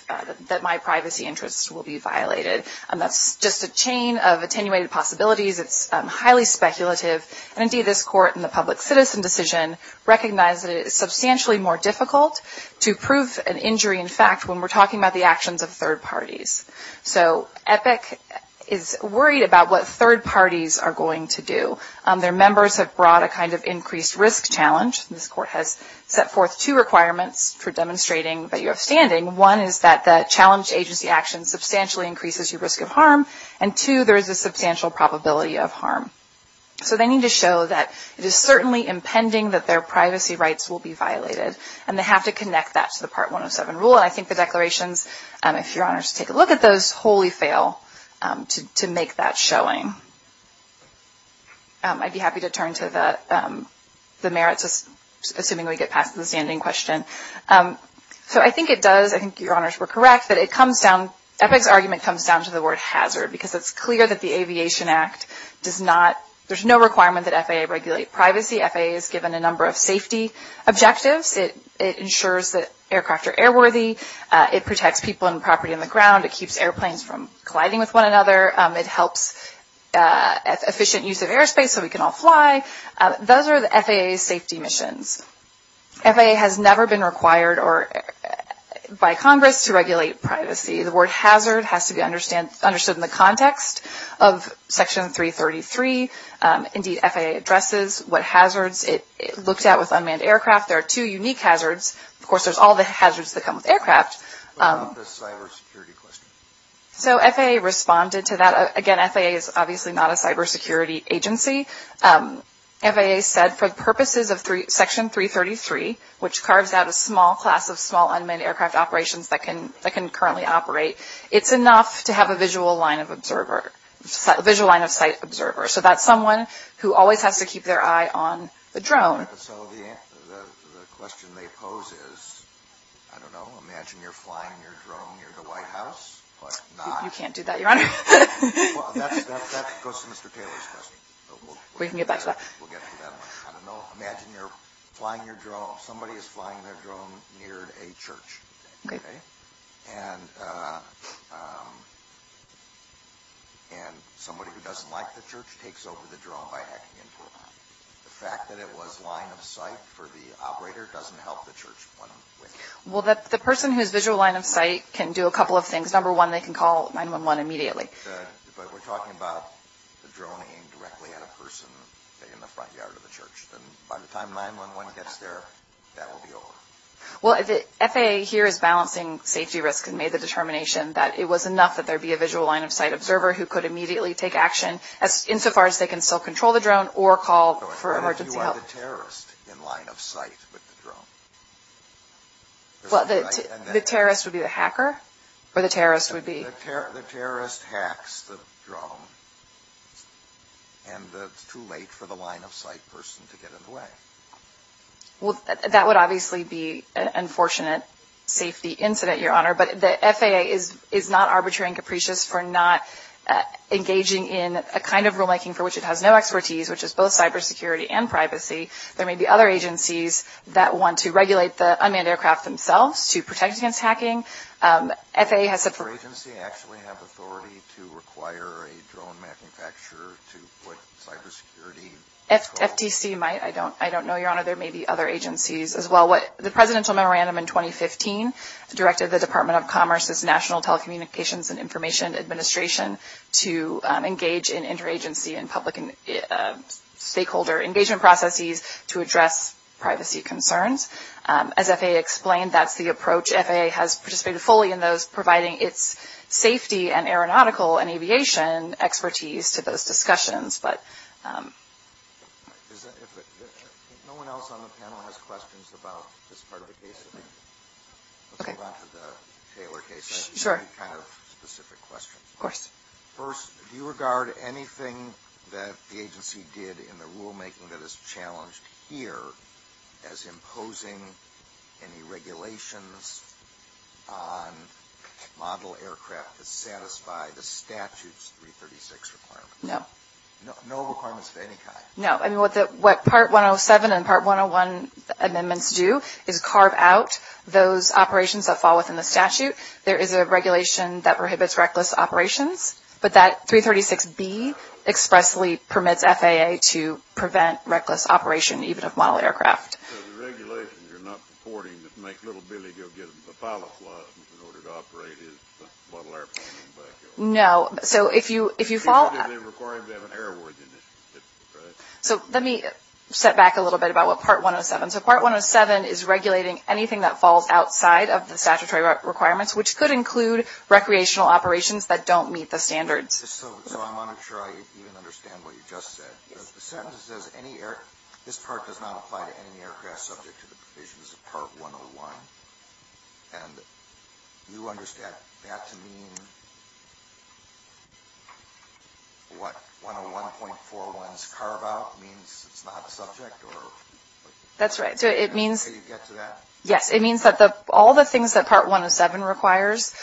that my privacy interests will be violated. That's just a chain of attenuated possibilities. It's highly speculative. And, indeed, this court in the public citizen decision recognized that it is substantially more difficult to prove an injury in fact when we're talking about the actions of third parties. So EPIC is worried about what third parties are going to do. Their members have brought a kind of increased risk challenge. This court has set forth two requirements for demonstrating your standing. One is that the challenge agency action substantially increases your risk of harm, and, two, there is a substantial probability of harm. So they need to show that it is certainly impending that their privacy rights will be violated, and they have to connect that to the Part 107 rule, and I think the declarations, if Your Honors take a look at those, wholly fail to make that showing. I'd be happy to turn to the merits, assuming we get past the standing question. So I think it does, I think Your Honors were correct, that EPIC's argument comes down to the word hazard because it's clear that the Aviation Act does not, there's no requirement that FAA regulate privacy. FAA is given a number of safety objectives. It ensures that aircraft are airworthy. It protects people and property on the ground. It keeps airplanes from colliding with one another. It helps efficient use of airspace so we can all fly. Those are the FAA's safety missions. FAA has never been required by Congress to regulate privacy. The word hazard has to be understood in the context of Section 333. Indeed, FAA addresses what hazards it looks at with unmanned aircraft. There are two unique hazards. Of course, there's all the hazards that come with aircraft. What about the cybersecurity question? So FAA responded to that. Again, FAA is obviously not a cybersecurity agency. FAA said for the purposes of Section 333, which carves out a small class of small unmanned aircraft operations that can currently operate, it's enough to have a visual line of sight observer. So that's someone who always has to keep their eye on the drone. So the question they pose is, I don't know, imagine you're flying your drone near the White House. You can't do that, Your Honor. Well, that goes to Mr. Taylor's test. We can get back to that. Imagine you're flying your drone. Somebody is flying their drone near a church. And somebody who doesn't like the church takes over the drone by hacking into it. The fact that it was line of sight for the operator doesn't help the church. Well, the person who's visual line of sight can do a couple of things. Number one, they can call 911 immediately. But we're talking about the drone aimed directly at a person in the front yard of the church. By the time 911 gets there, that will be over. Well, FAA here is balancing safety risk and made the determination that it was enough that there be a visual line of sight observer who could immediately take action insofar as they can still control the drone or call for emergency help. So imagine you are the terrorist in line of sight with the drone. The terrorist would be the hacker or the terrorist would be? The terrorist hacks the drone. And it's too late for the line of sight person to get in the way. Well, that would obviously be an unfortunate safety incident, Your Honor. But the FAA is not arbitrary and capricious for not engaging in a kind of rulemaking for which it has no expertise, which is both cybersecurity and privacy. There may be other agencies that want to regulate the unmanned aircraft themselves to protect against hacking. Does your agency actually have authority to require a drone manufacturer to put cybersecurity? FTC might. I don't know, Your Honor. There may be other agencies as well. The Presidential Memorandum in 2015 directed the Department of Commerce's National Telecommunications and Information Administration to engage in interagency and stakeholder engagement processes to address privacy concerns. As FAA explained, that's the approach. FAA has participated fully in those, providing its safety and aeronautical and aviation expertise to those discussions. If no one else on the panel has questions about this part of the case, this is a Taylor case, right? Sure. First, do you regard anything that the agency did in the rulemaking that is challenged here as imposing any regulations on model aircraft that satisfy the statute's 336 requirements? No. No requirements of any kind? No. What Part 107 and Part 101 amendments do is carve out those operations that fall within the statute. There is a regulation that prohibits reckless operations, but that 336B expressly permits FAA to prevent reckless operation even of model aircraft. So the regulation you're not supporting that makes little bitty to give them the follow-up license in order to operate is the model airplane in the background. No. So if you follow that up. It doesn't even require them to have an airworthiness. So let me step back a little bit about what Part 107 is. So Part 107 is regulating anything that falls outside of the statutory requirements, which could include recreational operations that don't meet the standards. So I want to try to understand what you just said. The sentence says this part does not apply to any aircraft subject to the provisions of Part 101. Do you understand that to mean what 101.401 is carved out means it's not a subject? That's right. Do you get to that? Yes. It means that all the things that Part 107 requires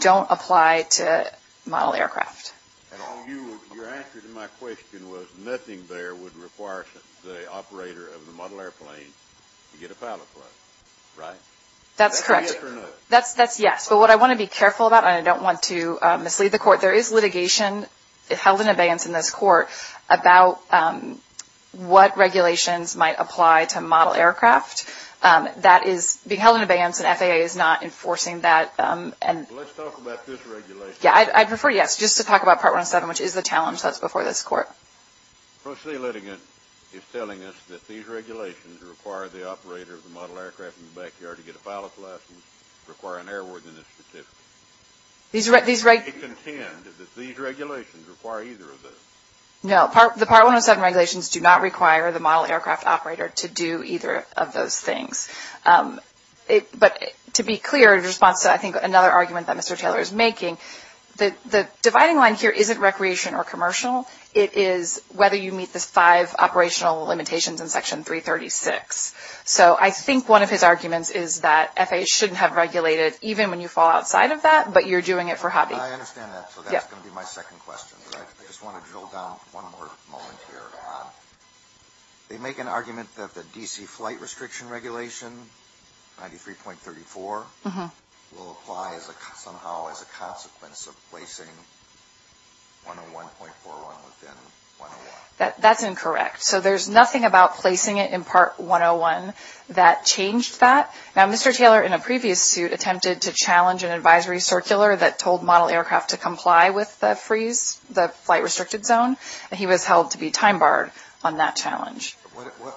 don't apply to model aircraft. And your answer to my question was nothing there would require the operator of the model airplane to get a pilot license, right? That's correct. Yes or no? Yes. But what I want to be careful about, and I don't want to mislead the court, there is litigation held in advance in this court about what regulations might apply to model aircraft. That is being held in advance, and FAA is not enforcing that. Let's talk about this regulation. Yes, I'd refer you just to talk about Part 107, which is a challenge that's before this court. Firstly, the litigant is telling us that these regulations require the operator of the model aircraft in the backyard to get a pilot license, require an airworthiness certificate. Do you contend that these regulations require either of those? No. The Part 107 regulations do not require the model aircraft operator to do either of those things. But to be clear, in response to, I think, another argument that Mr. Taylor is making, the dividing line here isn't recreation or commercial. It is whether you meet the five operational limitations in Section 336. So I think one of his arguments is that FAA shouldn't have regulated, even when you fall outside of that, but you're doing it for hobby. I understand that, so that's going to be my second question. I just want to drill down one more moment here. They make an argument that the DC flight restriction regulation, 93.34, will apply somehow as a consequence of placing 101.41 within 101. That's incorrect. So there's nothing about placing it in Part 101 that changed that. Now, Mr. Taylor, in a previous suit, attempted to challenge an advisory circular that told model aircraft to comply with the flight restricted zone, and he was held to be time barred on that challenge.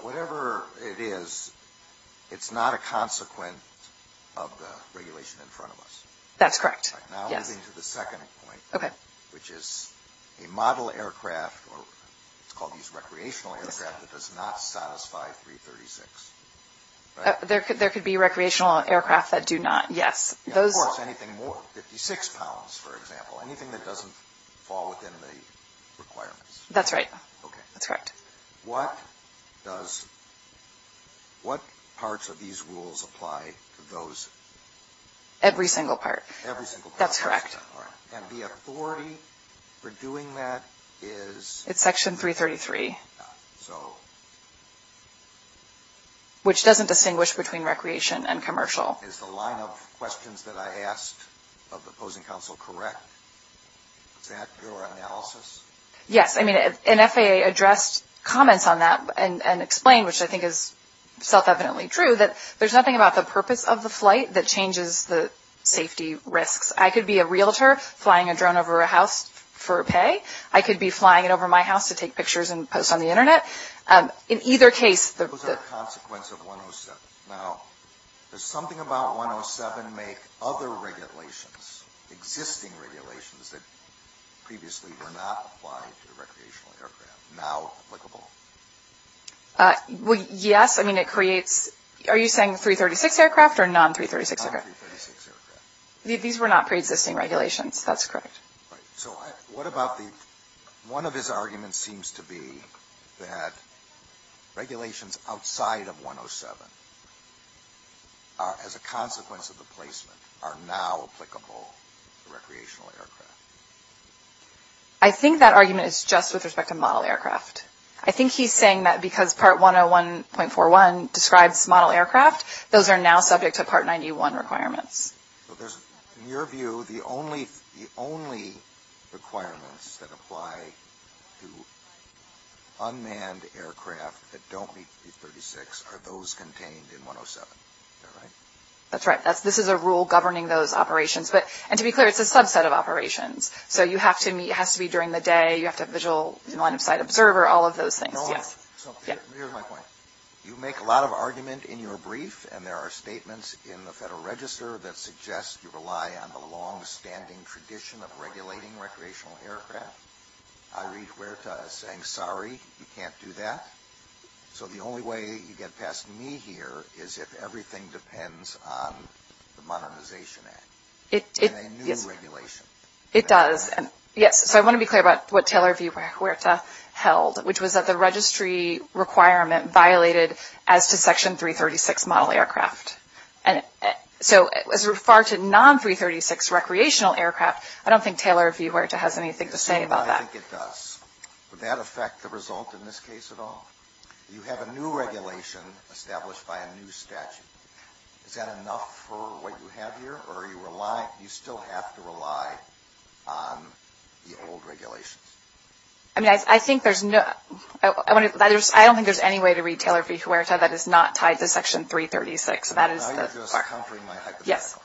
Whatever it is, it's not a consequence of the regulation in front of us. That's correct. Now moving to the second point, which is a model aircraft, or it's called recreational aircraft, that does not satisfy 336. There could be recreational aircraft that do not, yes. Of course, anything more than 56 pounds, for example, anything that doesn't fall within the requirements. That's right. Okay. That's correct. What parts of these rules apply to those? Every single part. Every single part. That's correct. And the authority for doing that is? It's Section 333. So? Which doesn't distinguish between recreation and commercial. Is the line of questions that I asked of the opposing counsel correct? Is that through our analysis? Yes. I mean, and FAA addressed comments on that and explained, which I think is self-evidently true, that there's nothing about the purpose of the flight that changes the safety risks. I could be a realtor flying a drone over a house for a pay. I could be flying it over my house to take pictures and post on the Internet. In either case. It was a consequence of 107. Now, does something about 107 make other regulations, existing regulations, that previously did not apply to recreational aircraft now applicable? Yes. I mean, it creates – are you saying 336 aircraft or non-336 aircraft? Non-336 aircraft. These were not pre-existing regulations. That's correct. So what about the – one of his arguments seems to be that regulations outside of 107, as a consequence of the placement, are now applicable to recreational aircraft. I think that argument is just with respect to model aircraft. I think he's saying that because Part 101.41 describes model aircraft, those are now subject to Part 91 requirements. In your view, the only requirements that apply to unmanned aircraft that don't meet 336 are those contained in 107. Is that right? That's right. This is a rule governing those operations. And to be clear, it's a subset of operations. So you have to meet – it has to be during the day. You have to have visual line-of-sight observer, all of those things. You make a lot of argument in your brief, and there are statements in the Federal Register that suggest you rely on the long-standing tradition of regulating recreational aircraft. I read Huerta saying, sorry, you can't do that. So the only way you get past me here is if everything depends on the Modernization Act and a new regulation. It does. So I want to be clear about what Taylor v. Huerta held, which was that the registry requirement violated as to Section 336 model aircraft. And so as far as non-336 recreational aircraft, I don't think Taylor v. Huerta has anything to say about that. I think it does. Would that affect the result in this case at all? You have a new regulation established by a new statute. Is that enough for what you have here? Or do you still have to rely on the old regulations? I think there's no – I don't think there's any way to read Taylor v. Huerta that is not tied to Section 336. I'm just countering my hypothetical.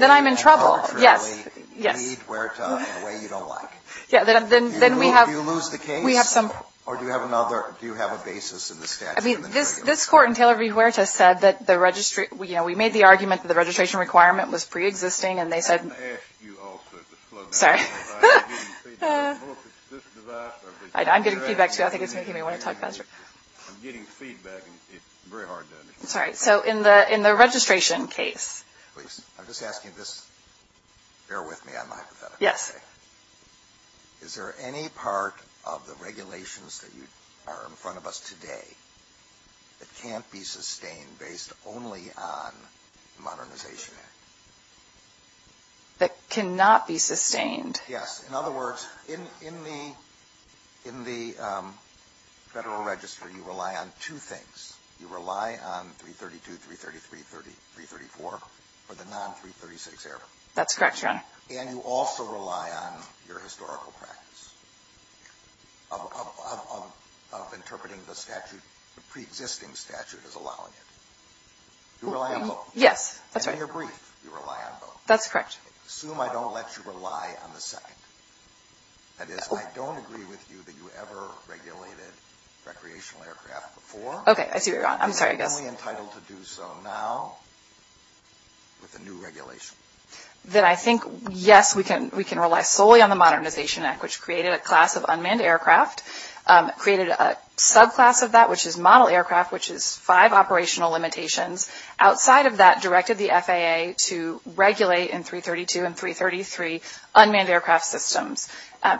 Then I'm in trouble. You need Huerta in a way you don't like. Do you lose the case? Or do you have another – do you have a basis in the statute? I mean, this court in Taylor v. Huerta said that the registry – you know, we made the argument that the registration requirement was preexisting and they said – I asked you all to disclose it. Sorry. I'm getting feedback too. I think it's making me want to talk faster. I'm getting feedback. It's very hard to me. Sorry. So in the registration case – I'm just asking this. Bear with me on my hypothetical. Yes. Okay. Is there any part of the regulations that are in front of us today that can't be sustained based only on the Modernization Act? That cannot be sustained? Yes. In other words, in the Federal Registry, you rely on two things. You rely on 332, 330, 330, 334 for the non-336 error. That's correct, John. And you also rely on your historical practice of interpreting the statute – the preexisting statute as allowing it. You rely on both. Yes, that's right. And you're brief. You rely on both. That's correct. Assume I don't let you rely on the second. That is, I don't agree with you that you ever regulated recreational aircraft before. Okay. I'm sorry. You're only entitled to do so now with a new regulation. Then I think, yes, we can rely solely on the Modernization Act, which created a class of unmanned aircraft, created a subclass of that, which is model aircraft, which is five operational limitations. Outside of that, directed the FAA to regulate in 332 and 333 unmanned aircraft systems.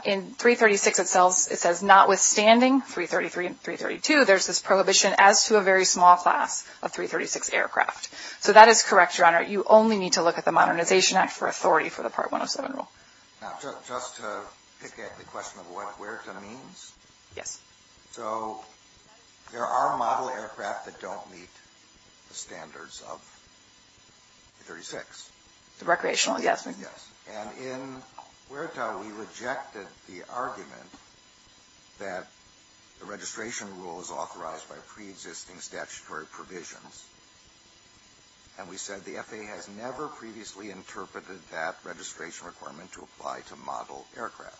In 336 itself, it says, notwithstanding 333 and 332, there's this prohibition as to a very small class of 336 aircraft. So that is correct, Your Honor. You only need to look at the Modernization Act for authority for the Part 107 rule. Now, just to pick at the question of what WERTA means. Yes. So there are model aircraft that don't meet the standards of 336. Recreational, yes. Yes. And in WERTA, we rejected the argument that the registration rule is authorized by preexisting statutory provisions. And we said the FAA has never previously interpreted that registration requirement to apply to model aircraft.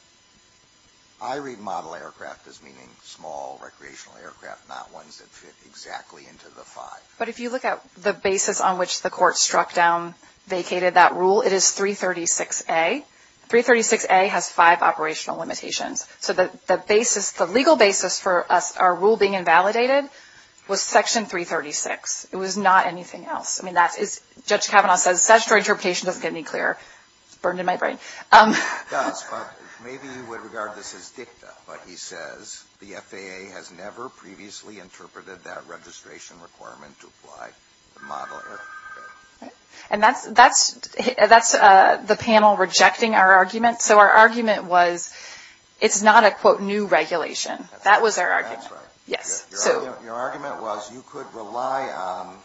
I read model aircraft as meaning small recreational aircraft, not ones that fit exactly into the five. But if you look at the basis on which the Court struck down, vacated that rule, it is 336A. 336A has five operational limitations. So the basis, the legal basis for our rule being invalidated was Section 336. It was not anything else. I mean, Judge Kavanaugh says statutory interpretation doesn't get any clearer. It burned in my brain. It does, but maybe you would regard this as dicta. But he says the FAA has never previously interpreted that registration requirement to apply to model aircraft. And that's the panel rejecting our argument. So our argument was it's not a, quote, new regulation. That was our argument. That's right. Yes. Your argument was you could rely on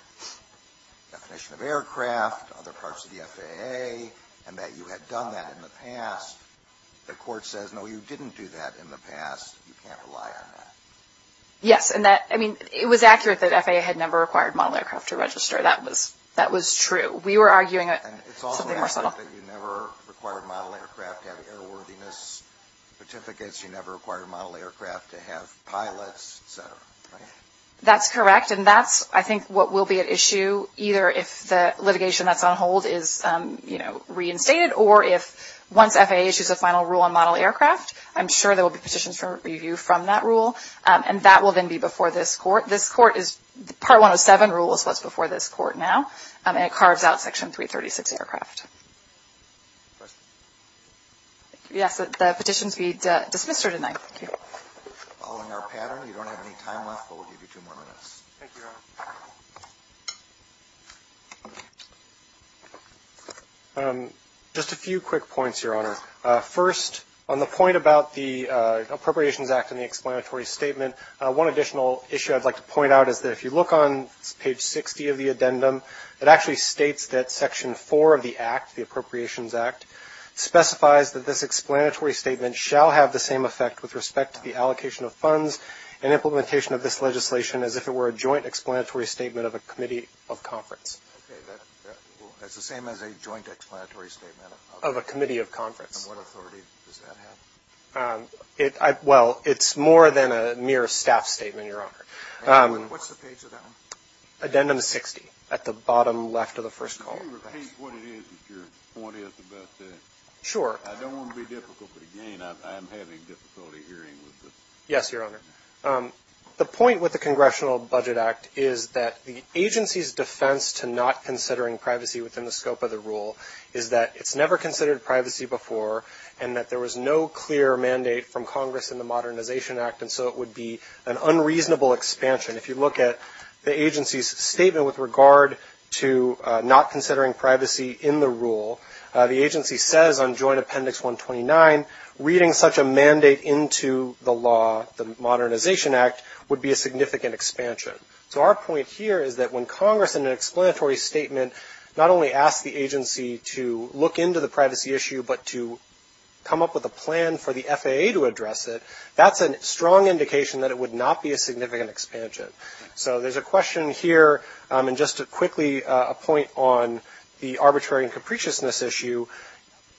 definition of aircraft, other parts of the FAA, and that you had done that in the past. The Court says, no, you didn't do that in the past. You can't rely on that. Yes. And that, I mean, it was accurate that FAA had never required model aircraft to register. That was true. It's also accurate that you never required model aircraft to have airworthiness certificates. You never required model aircraft to have pilots, et cetera. That's correct. And that's, I think, what will be at issue either if the litigation that's on hold is reinstated or if once FAA issues a final rule on model aircraft, I'm sure there will be petitions for review from that rule. And that will then be before this Court. This Court is Part 107 rule, so that's before this Court now. And it carves out Section 336 aircraft. Yes. The petition feeds this mixture tonight. All in our pattern. We don't have any time left, but we'll give you two more minutes. Thank you, Your Honor. Just a few quick points, Your Honor. First, on the point about the Appropriations Act and the explanatory statement, one additional issue I'd like to point out is that if you look on page 60 of the addendum, it actually states that Section 4 of the Act, the Appropriations Act, specifies that this explanatory statement shall have the same effect with respect to the allocation of funds and implementation of this legislation as if it were a joint explanatory statement of a committee of conference. Okay. That's the same as a joint explanatory statement of conference. Of a committee of conference. And what authority does that have? Well, it's more than a mere staff statement, Your Honor. What's the page of that one? Addendum 60, at the bottom left of the first column. Can you repeat what it is that your point is about that? Sure. I don't want to be difficult, but, again, I'm having difficulty hearing this. Yes, Your Honor. The point with the Congressional Budget Act is that the agency's defense to not considering privacy within the scope of the rule is that it's never considered privacy before, and that there was no clear mandate from Congress in the Modernization Act, and so it would be an unreasonable expansion. If you look at the agency's statement with regard to not considering privacy in the rule, the agency says on Joint Appendix 129, reading such a mandate into the law, the Modernization Act, would be a significant expansion. So our point here is that when Congress, in an explanatory statement, not only asked the agency to look into the privacy issue, but to come up with a plan for the FAA to address it, that's a strong indication that it would not be a significant expansion. So there's a question here, and just to quickly point on the arbitrary and capriciousness issue,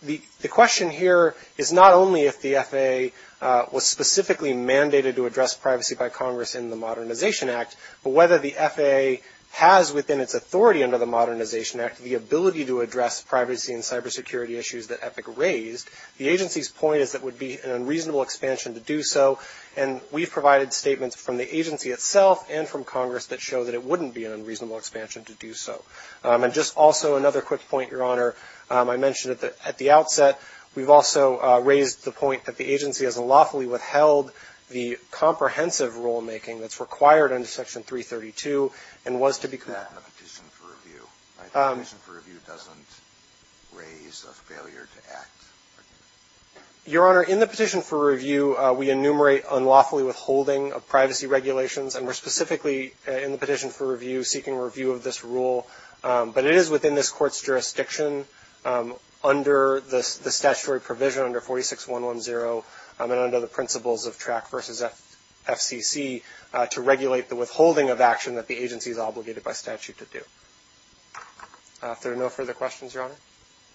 the question here is not only if the FAA was specifically mandated to address privacy by Congress in the Modernization Act, but whether the FAA has within its authority under the Modernization Act the ability to address privacy and cybersecurity issues that Epic raised. The agency's point is that it would be an unreasonable expansion to do so, and we've provided statements from the agency itself and from Congress that show that it wouldn't be an unreasonable expansion to do so. And just also another quick point, Your Honor, I mentioned at the outset, we've also raised the point that the agency has unlawfully withheld the comprehensive rulemaking that's required under Section 332 and was to be... I have a petition for review. My petition for review doesn't raise a failure to act. Your Honor, in the petition for review, we enumerate unlawfully withholding of privacy regulations, and we're specifically in the petition for review seeking review of this rule, but it is within this court's jurisdiction under the statutory provision under 46110 and under the principles of TRAC v. FCC to regulate the withholding of action that the agency is obligated by statute to do. Are there no further questions, Your Honor?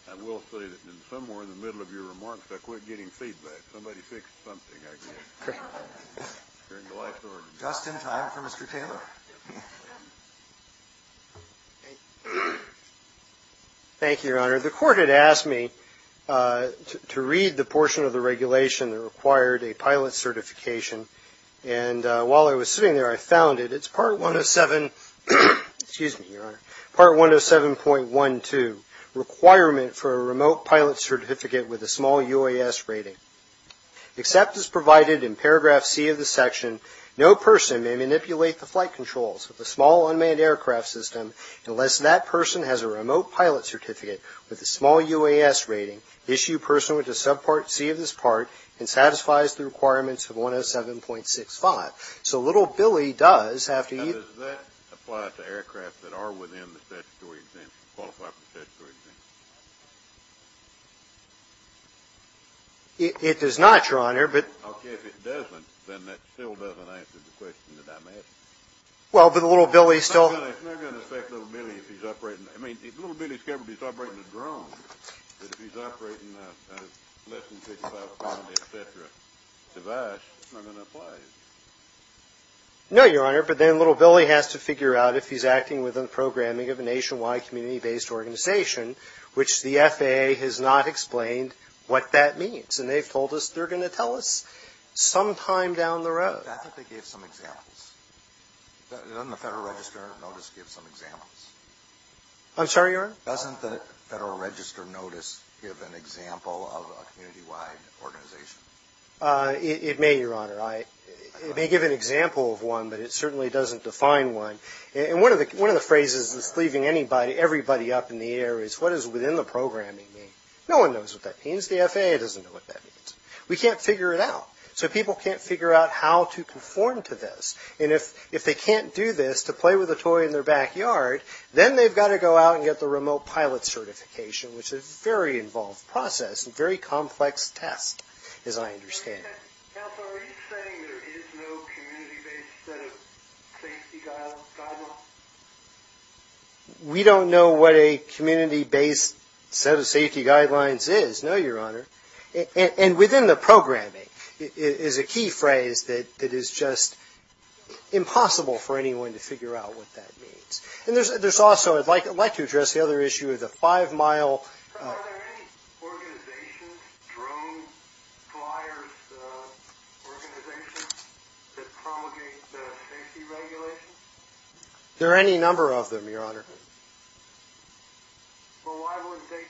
I will say that somewhere in the middle of your remarks, I quit getting feedback. Somebody fixed something, I guess. Okay. Justin, time for Mr. Taylor. Thank you, Your Honor. The court had asked me to read the portion of the regulation that required a pilot certification, and while I was sitting there, I found it. It's Part 107.12, requirement for a remote pilot certificate with a small UAS rating. Except as provided in Paragraph C of the section, no person may manipulate the flight controls of a small unmanned aircraft system unless that person has a remote pilot certificate with a small UAS rating, issue person with the subpart C of this part, and satisfies the requirements of 107.65. So little Billy does have to use that. Does that apply to aircrafts that are within the statutory exemptions, qualified for the statutory exemptions? It does not, Your Honor. Okay. If it doesn't, then that still doesn't answer the question that I'm asking. Well, but little Billy still – It's not going to affect little Billy if he's operating – I mean, if little Billy's covered, he's operating a drone, but if he's operating a less than 65-pound, et cetera, device, it's not going to apply. No, Your Honor. But then little Billy has to figure out if he's acting within programming of a nationwide community-based organization, which the FAA has not explained what that means. And they told us they're going to tell us sometime down the road. I think they gave some examples. Doesn't the Federal Register of Notice give some examples? I'm sorry, Your Honor? Doesn't the Federal Register of Notice give an example of a community-wide organization? It may, Your Honor. It may give an example of one, but it certainly doesn't define one. And one of the phrases that's cleaving everybody up in the air is, what does within the programming mean? No one knows what that means. The FAA doesn't know what that means. We can't figure it out. So people can't figure out how to conform to this. And if they can't do this, to play with a toy in their backyard, then they've got to go out and get the remote pilot certification, which is a very involved process and very complex task, as I understand it. Counselor, are you saying there is no community-based set of safety guidelines? We don't know what a community-based set of safety guidelines is, no, Your Honor. And within the programming is a key phrase that is just impossible for anyone to figure out what that means. And there's also, I'd like to address the other issue of the five-mile. Are there any organizations, drone flyers, organizations that promulgate the safety regulations? There are any number of them, Your Honor. Well, why wouldn't they?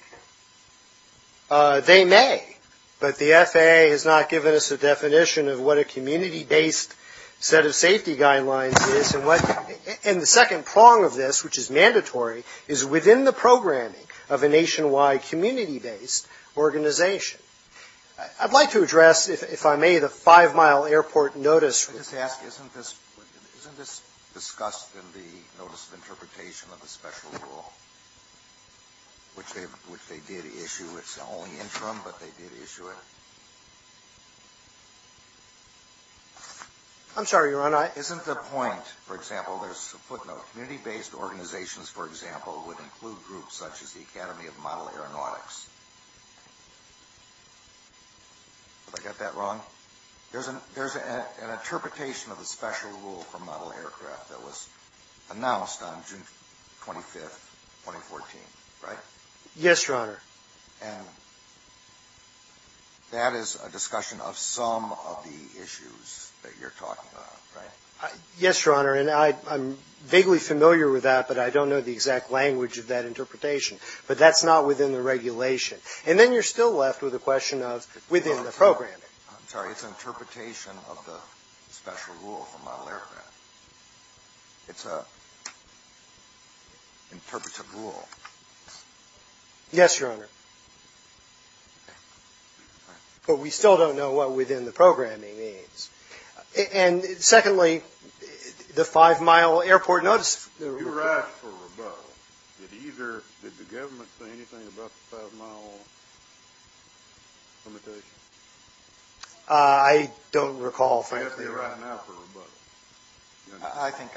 They may, but the FAA has not given us a definition of what a community-based set of safety guidelines is. And the second prong of this, which is mandatory, is within the programming of a nationwide community-based organization. I'd like to address, if I may, the five-mile airport notice. Isn't this discussed in the notice of interpretation of the special rule, which they did issue its own interim, but they did issue it? I'm sorry, Your Honor. Isn't the point, for example, there's a footnote. Community-based organizations, for example, would include groups such as the Academy of Model Aeronautics. Did I get that wrong? There's an interpretation of the special rule for model aircraft that was announced on June 25, 2014, right? Yes, Your Honor. And that is a discussion of some of the issues that you're talking about, right? Yes, Your Honor. And I'm vaguely familiar with that, but I don't know the exact language of that interpretation. But that's not within the regulation. And then you're still left with a question of within the programming. I'm sorry. It's an interpretation of the special rule for model aircraft. It's an interpretive rule. Yes, Your Honor. But we still don't know what within the programming is. And secondly, the five-mile airport notice. You asked for rebuttal. Did the government say anything about the five-mile limitation? You're asking now for rebuttal. I think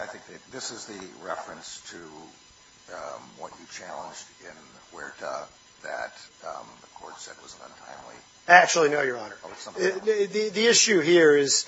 this is the reference to what you challenged in Huerta that the court said was untimely. Actually, no, Your Honor. The issue here is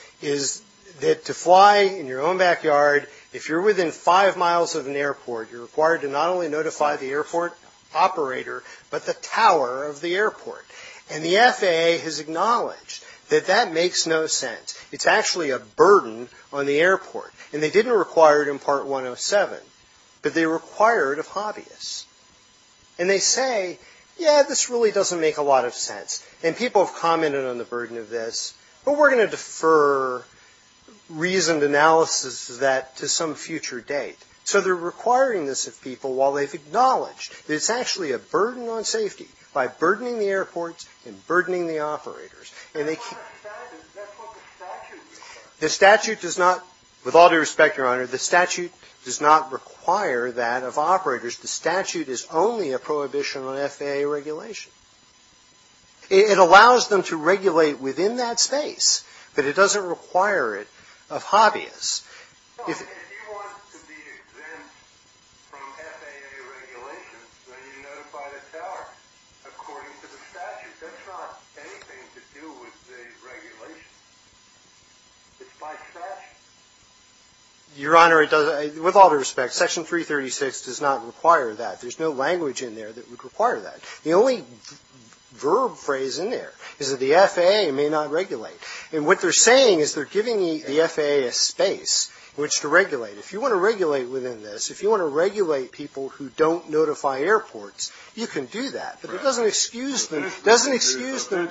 that to fly in your own backyard, if you're within five miles of an airport, you're required to not only notify the airport operator, but the tower of the airport. And the FAA has acknowledged that that makes no sense. It's actually a burden on the airport. And they didn't require it in Part 107, but they require it of hobbyists. And they say, yeah, this really doesn't make a lot of sense. And people have commented on the burden of this, but we're going to defer reasoned analysis of that to some future date. So they're requiring this of people while they've acknowledged that it's actually a burden on safety by burdening the airports and burdening the operators. That's what the statute is. The statute does not, with all due respect, Your Honor, the statute does not require that of operators. The statute is only a prohibition on FAA regulations. It allows them to regulate within that space, but it doesn't require it of hobbyists. If you want to be exempt from FAA regulations, then you notify the tower. According to the statute, that's not anything to do with the regulation. It's by statute. Your Honor, with all due respect, Section 336 does not require that. There's no language in there that would require that. The only verb phrase in there is that the FAA may not regulate. And what they're saying is they're giving the FAA a space which to regulate. If you want to regulate within this, if you want to regulate people who don't notify airports, you can do that, but it doesn't excuse them. It doesn't excuse them.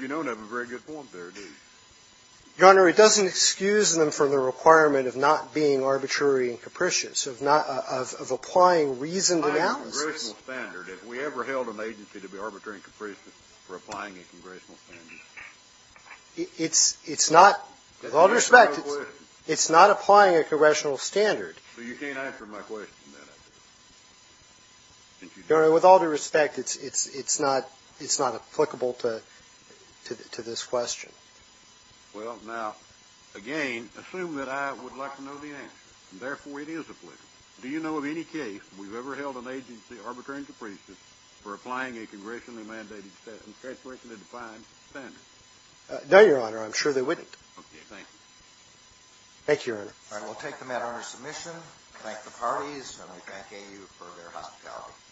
You don't have a very good form there, do you? Your Honor, it doesn't excuse them from the requirement of not being arbitrary and capricious, of applying reasoned analysis. I have a congressional standard. If we ever held an agency to be arbitrary and capricious, we're applying a congressional standard. It's not, with all due respect, it's not applying a congressional standard. So you can't answer my question, then? Your Honor, with all due respect, it's not applicable to this question. Well, now, again, assume that I would like to know the answer, and therefore it is applicable. Do you know of any case we've ever held an agency arbitrary and capricious for applying a congressionally mandated standard? No, Your Honor. I'm sure they wouldn't. Okay. Thank you. Thank you, Your Honor. All right, we'll take the matter under submission. Thank the parties, and thank AU for their hospitality.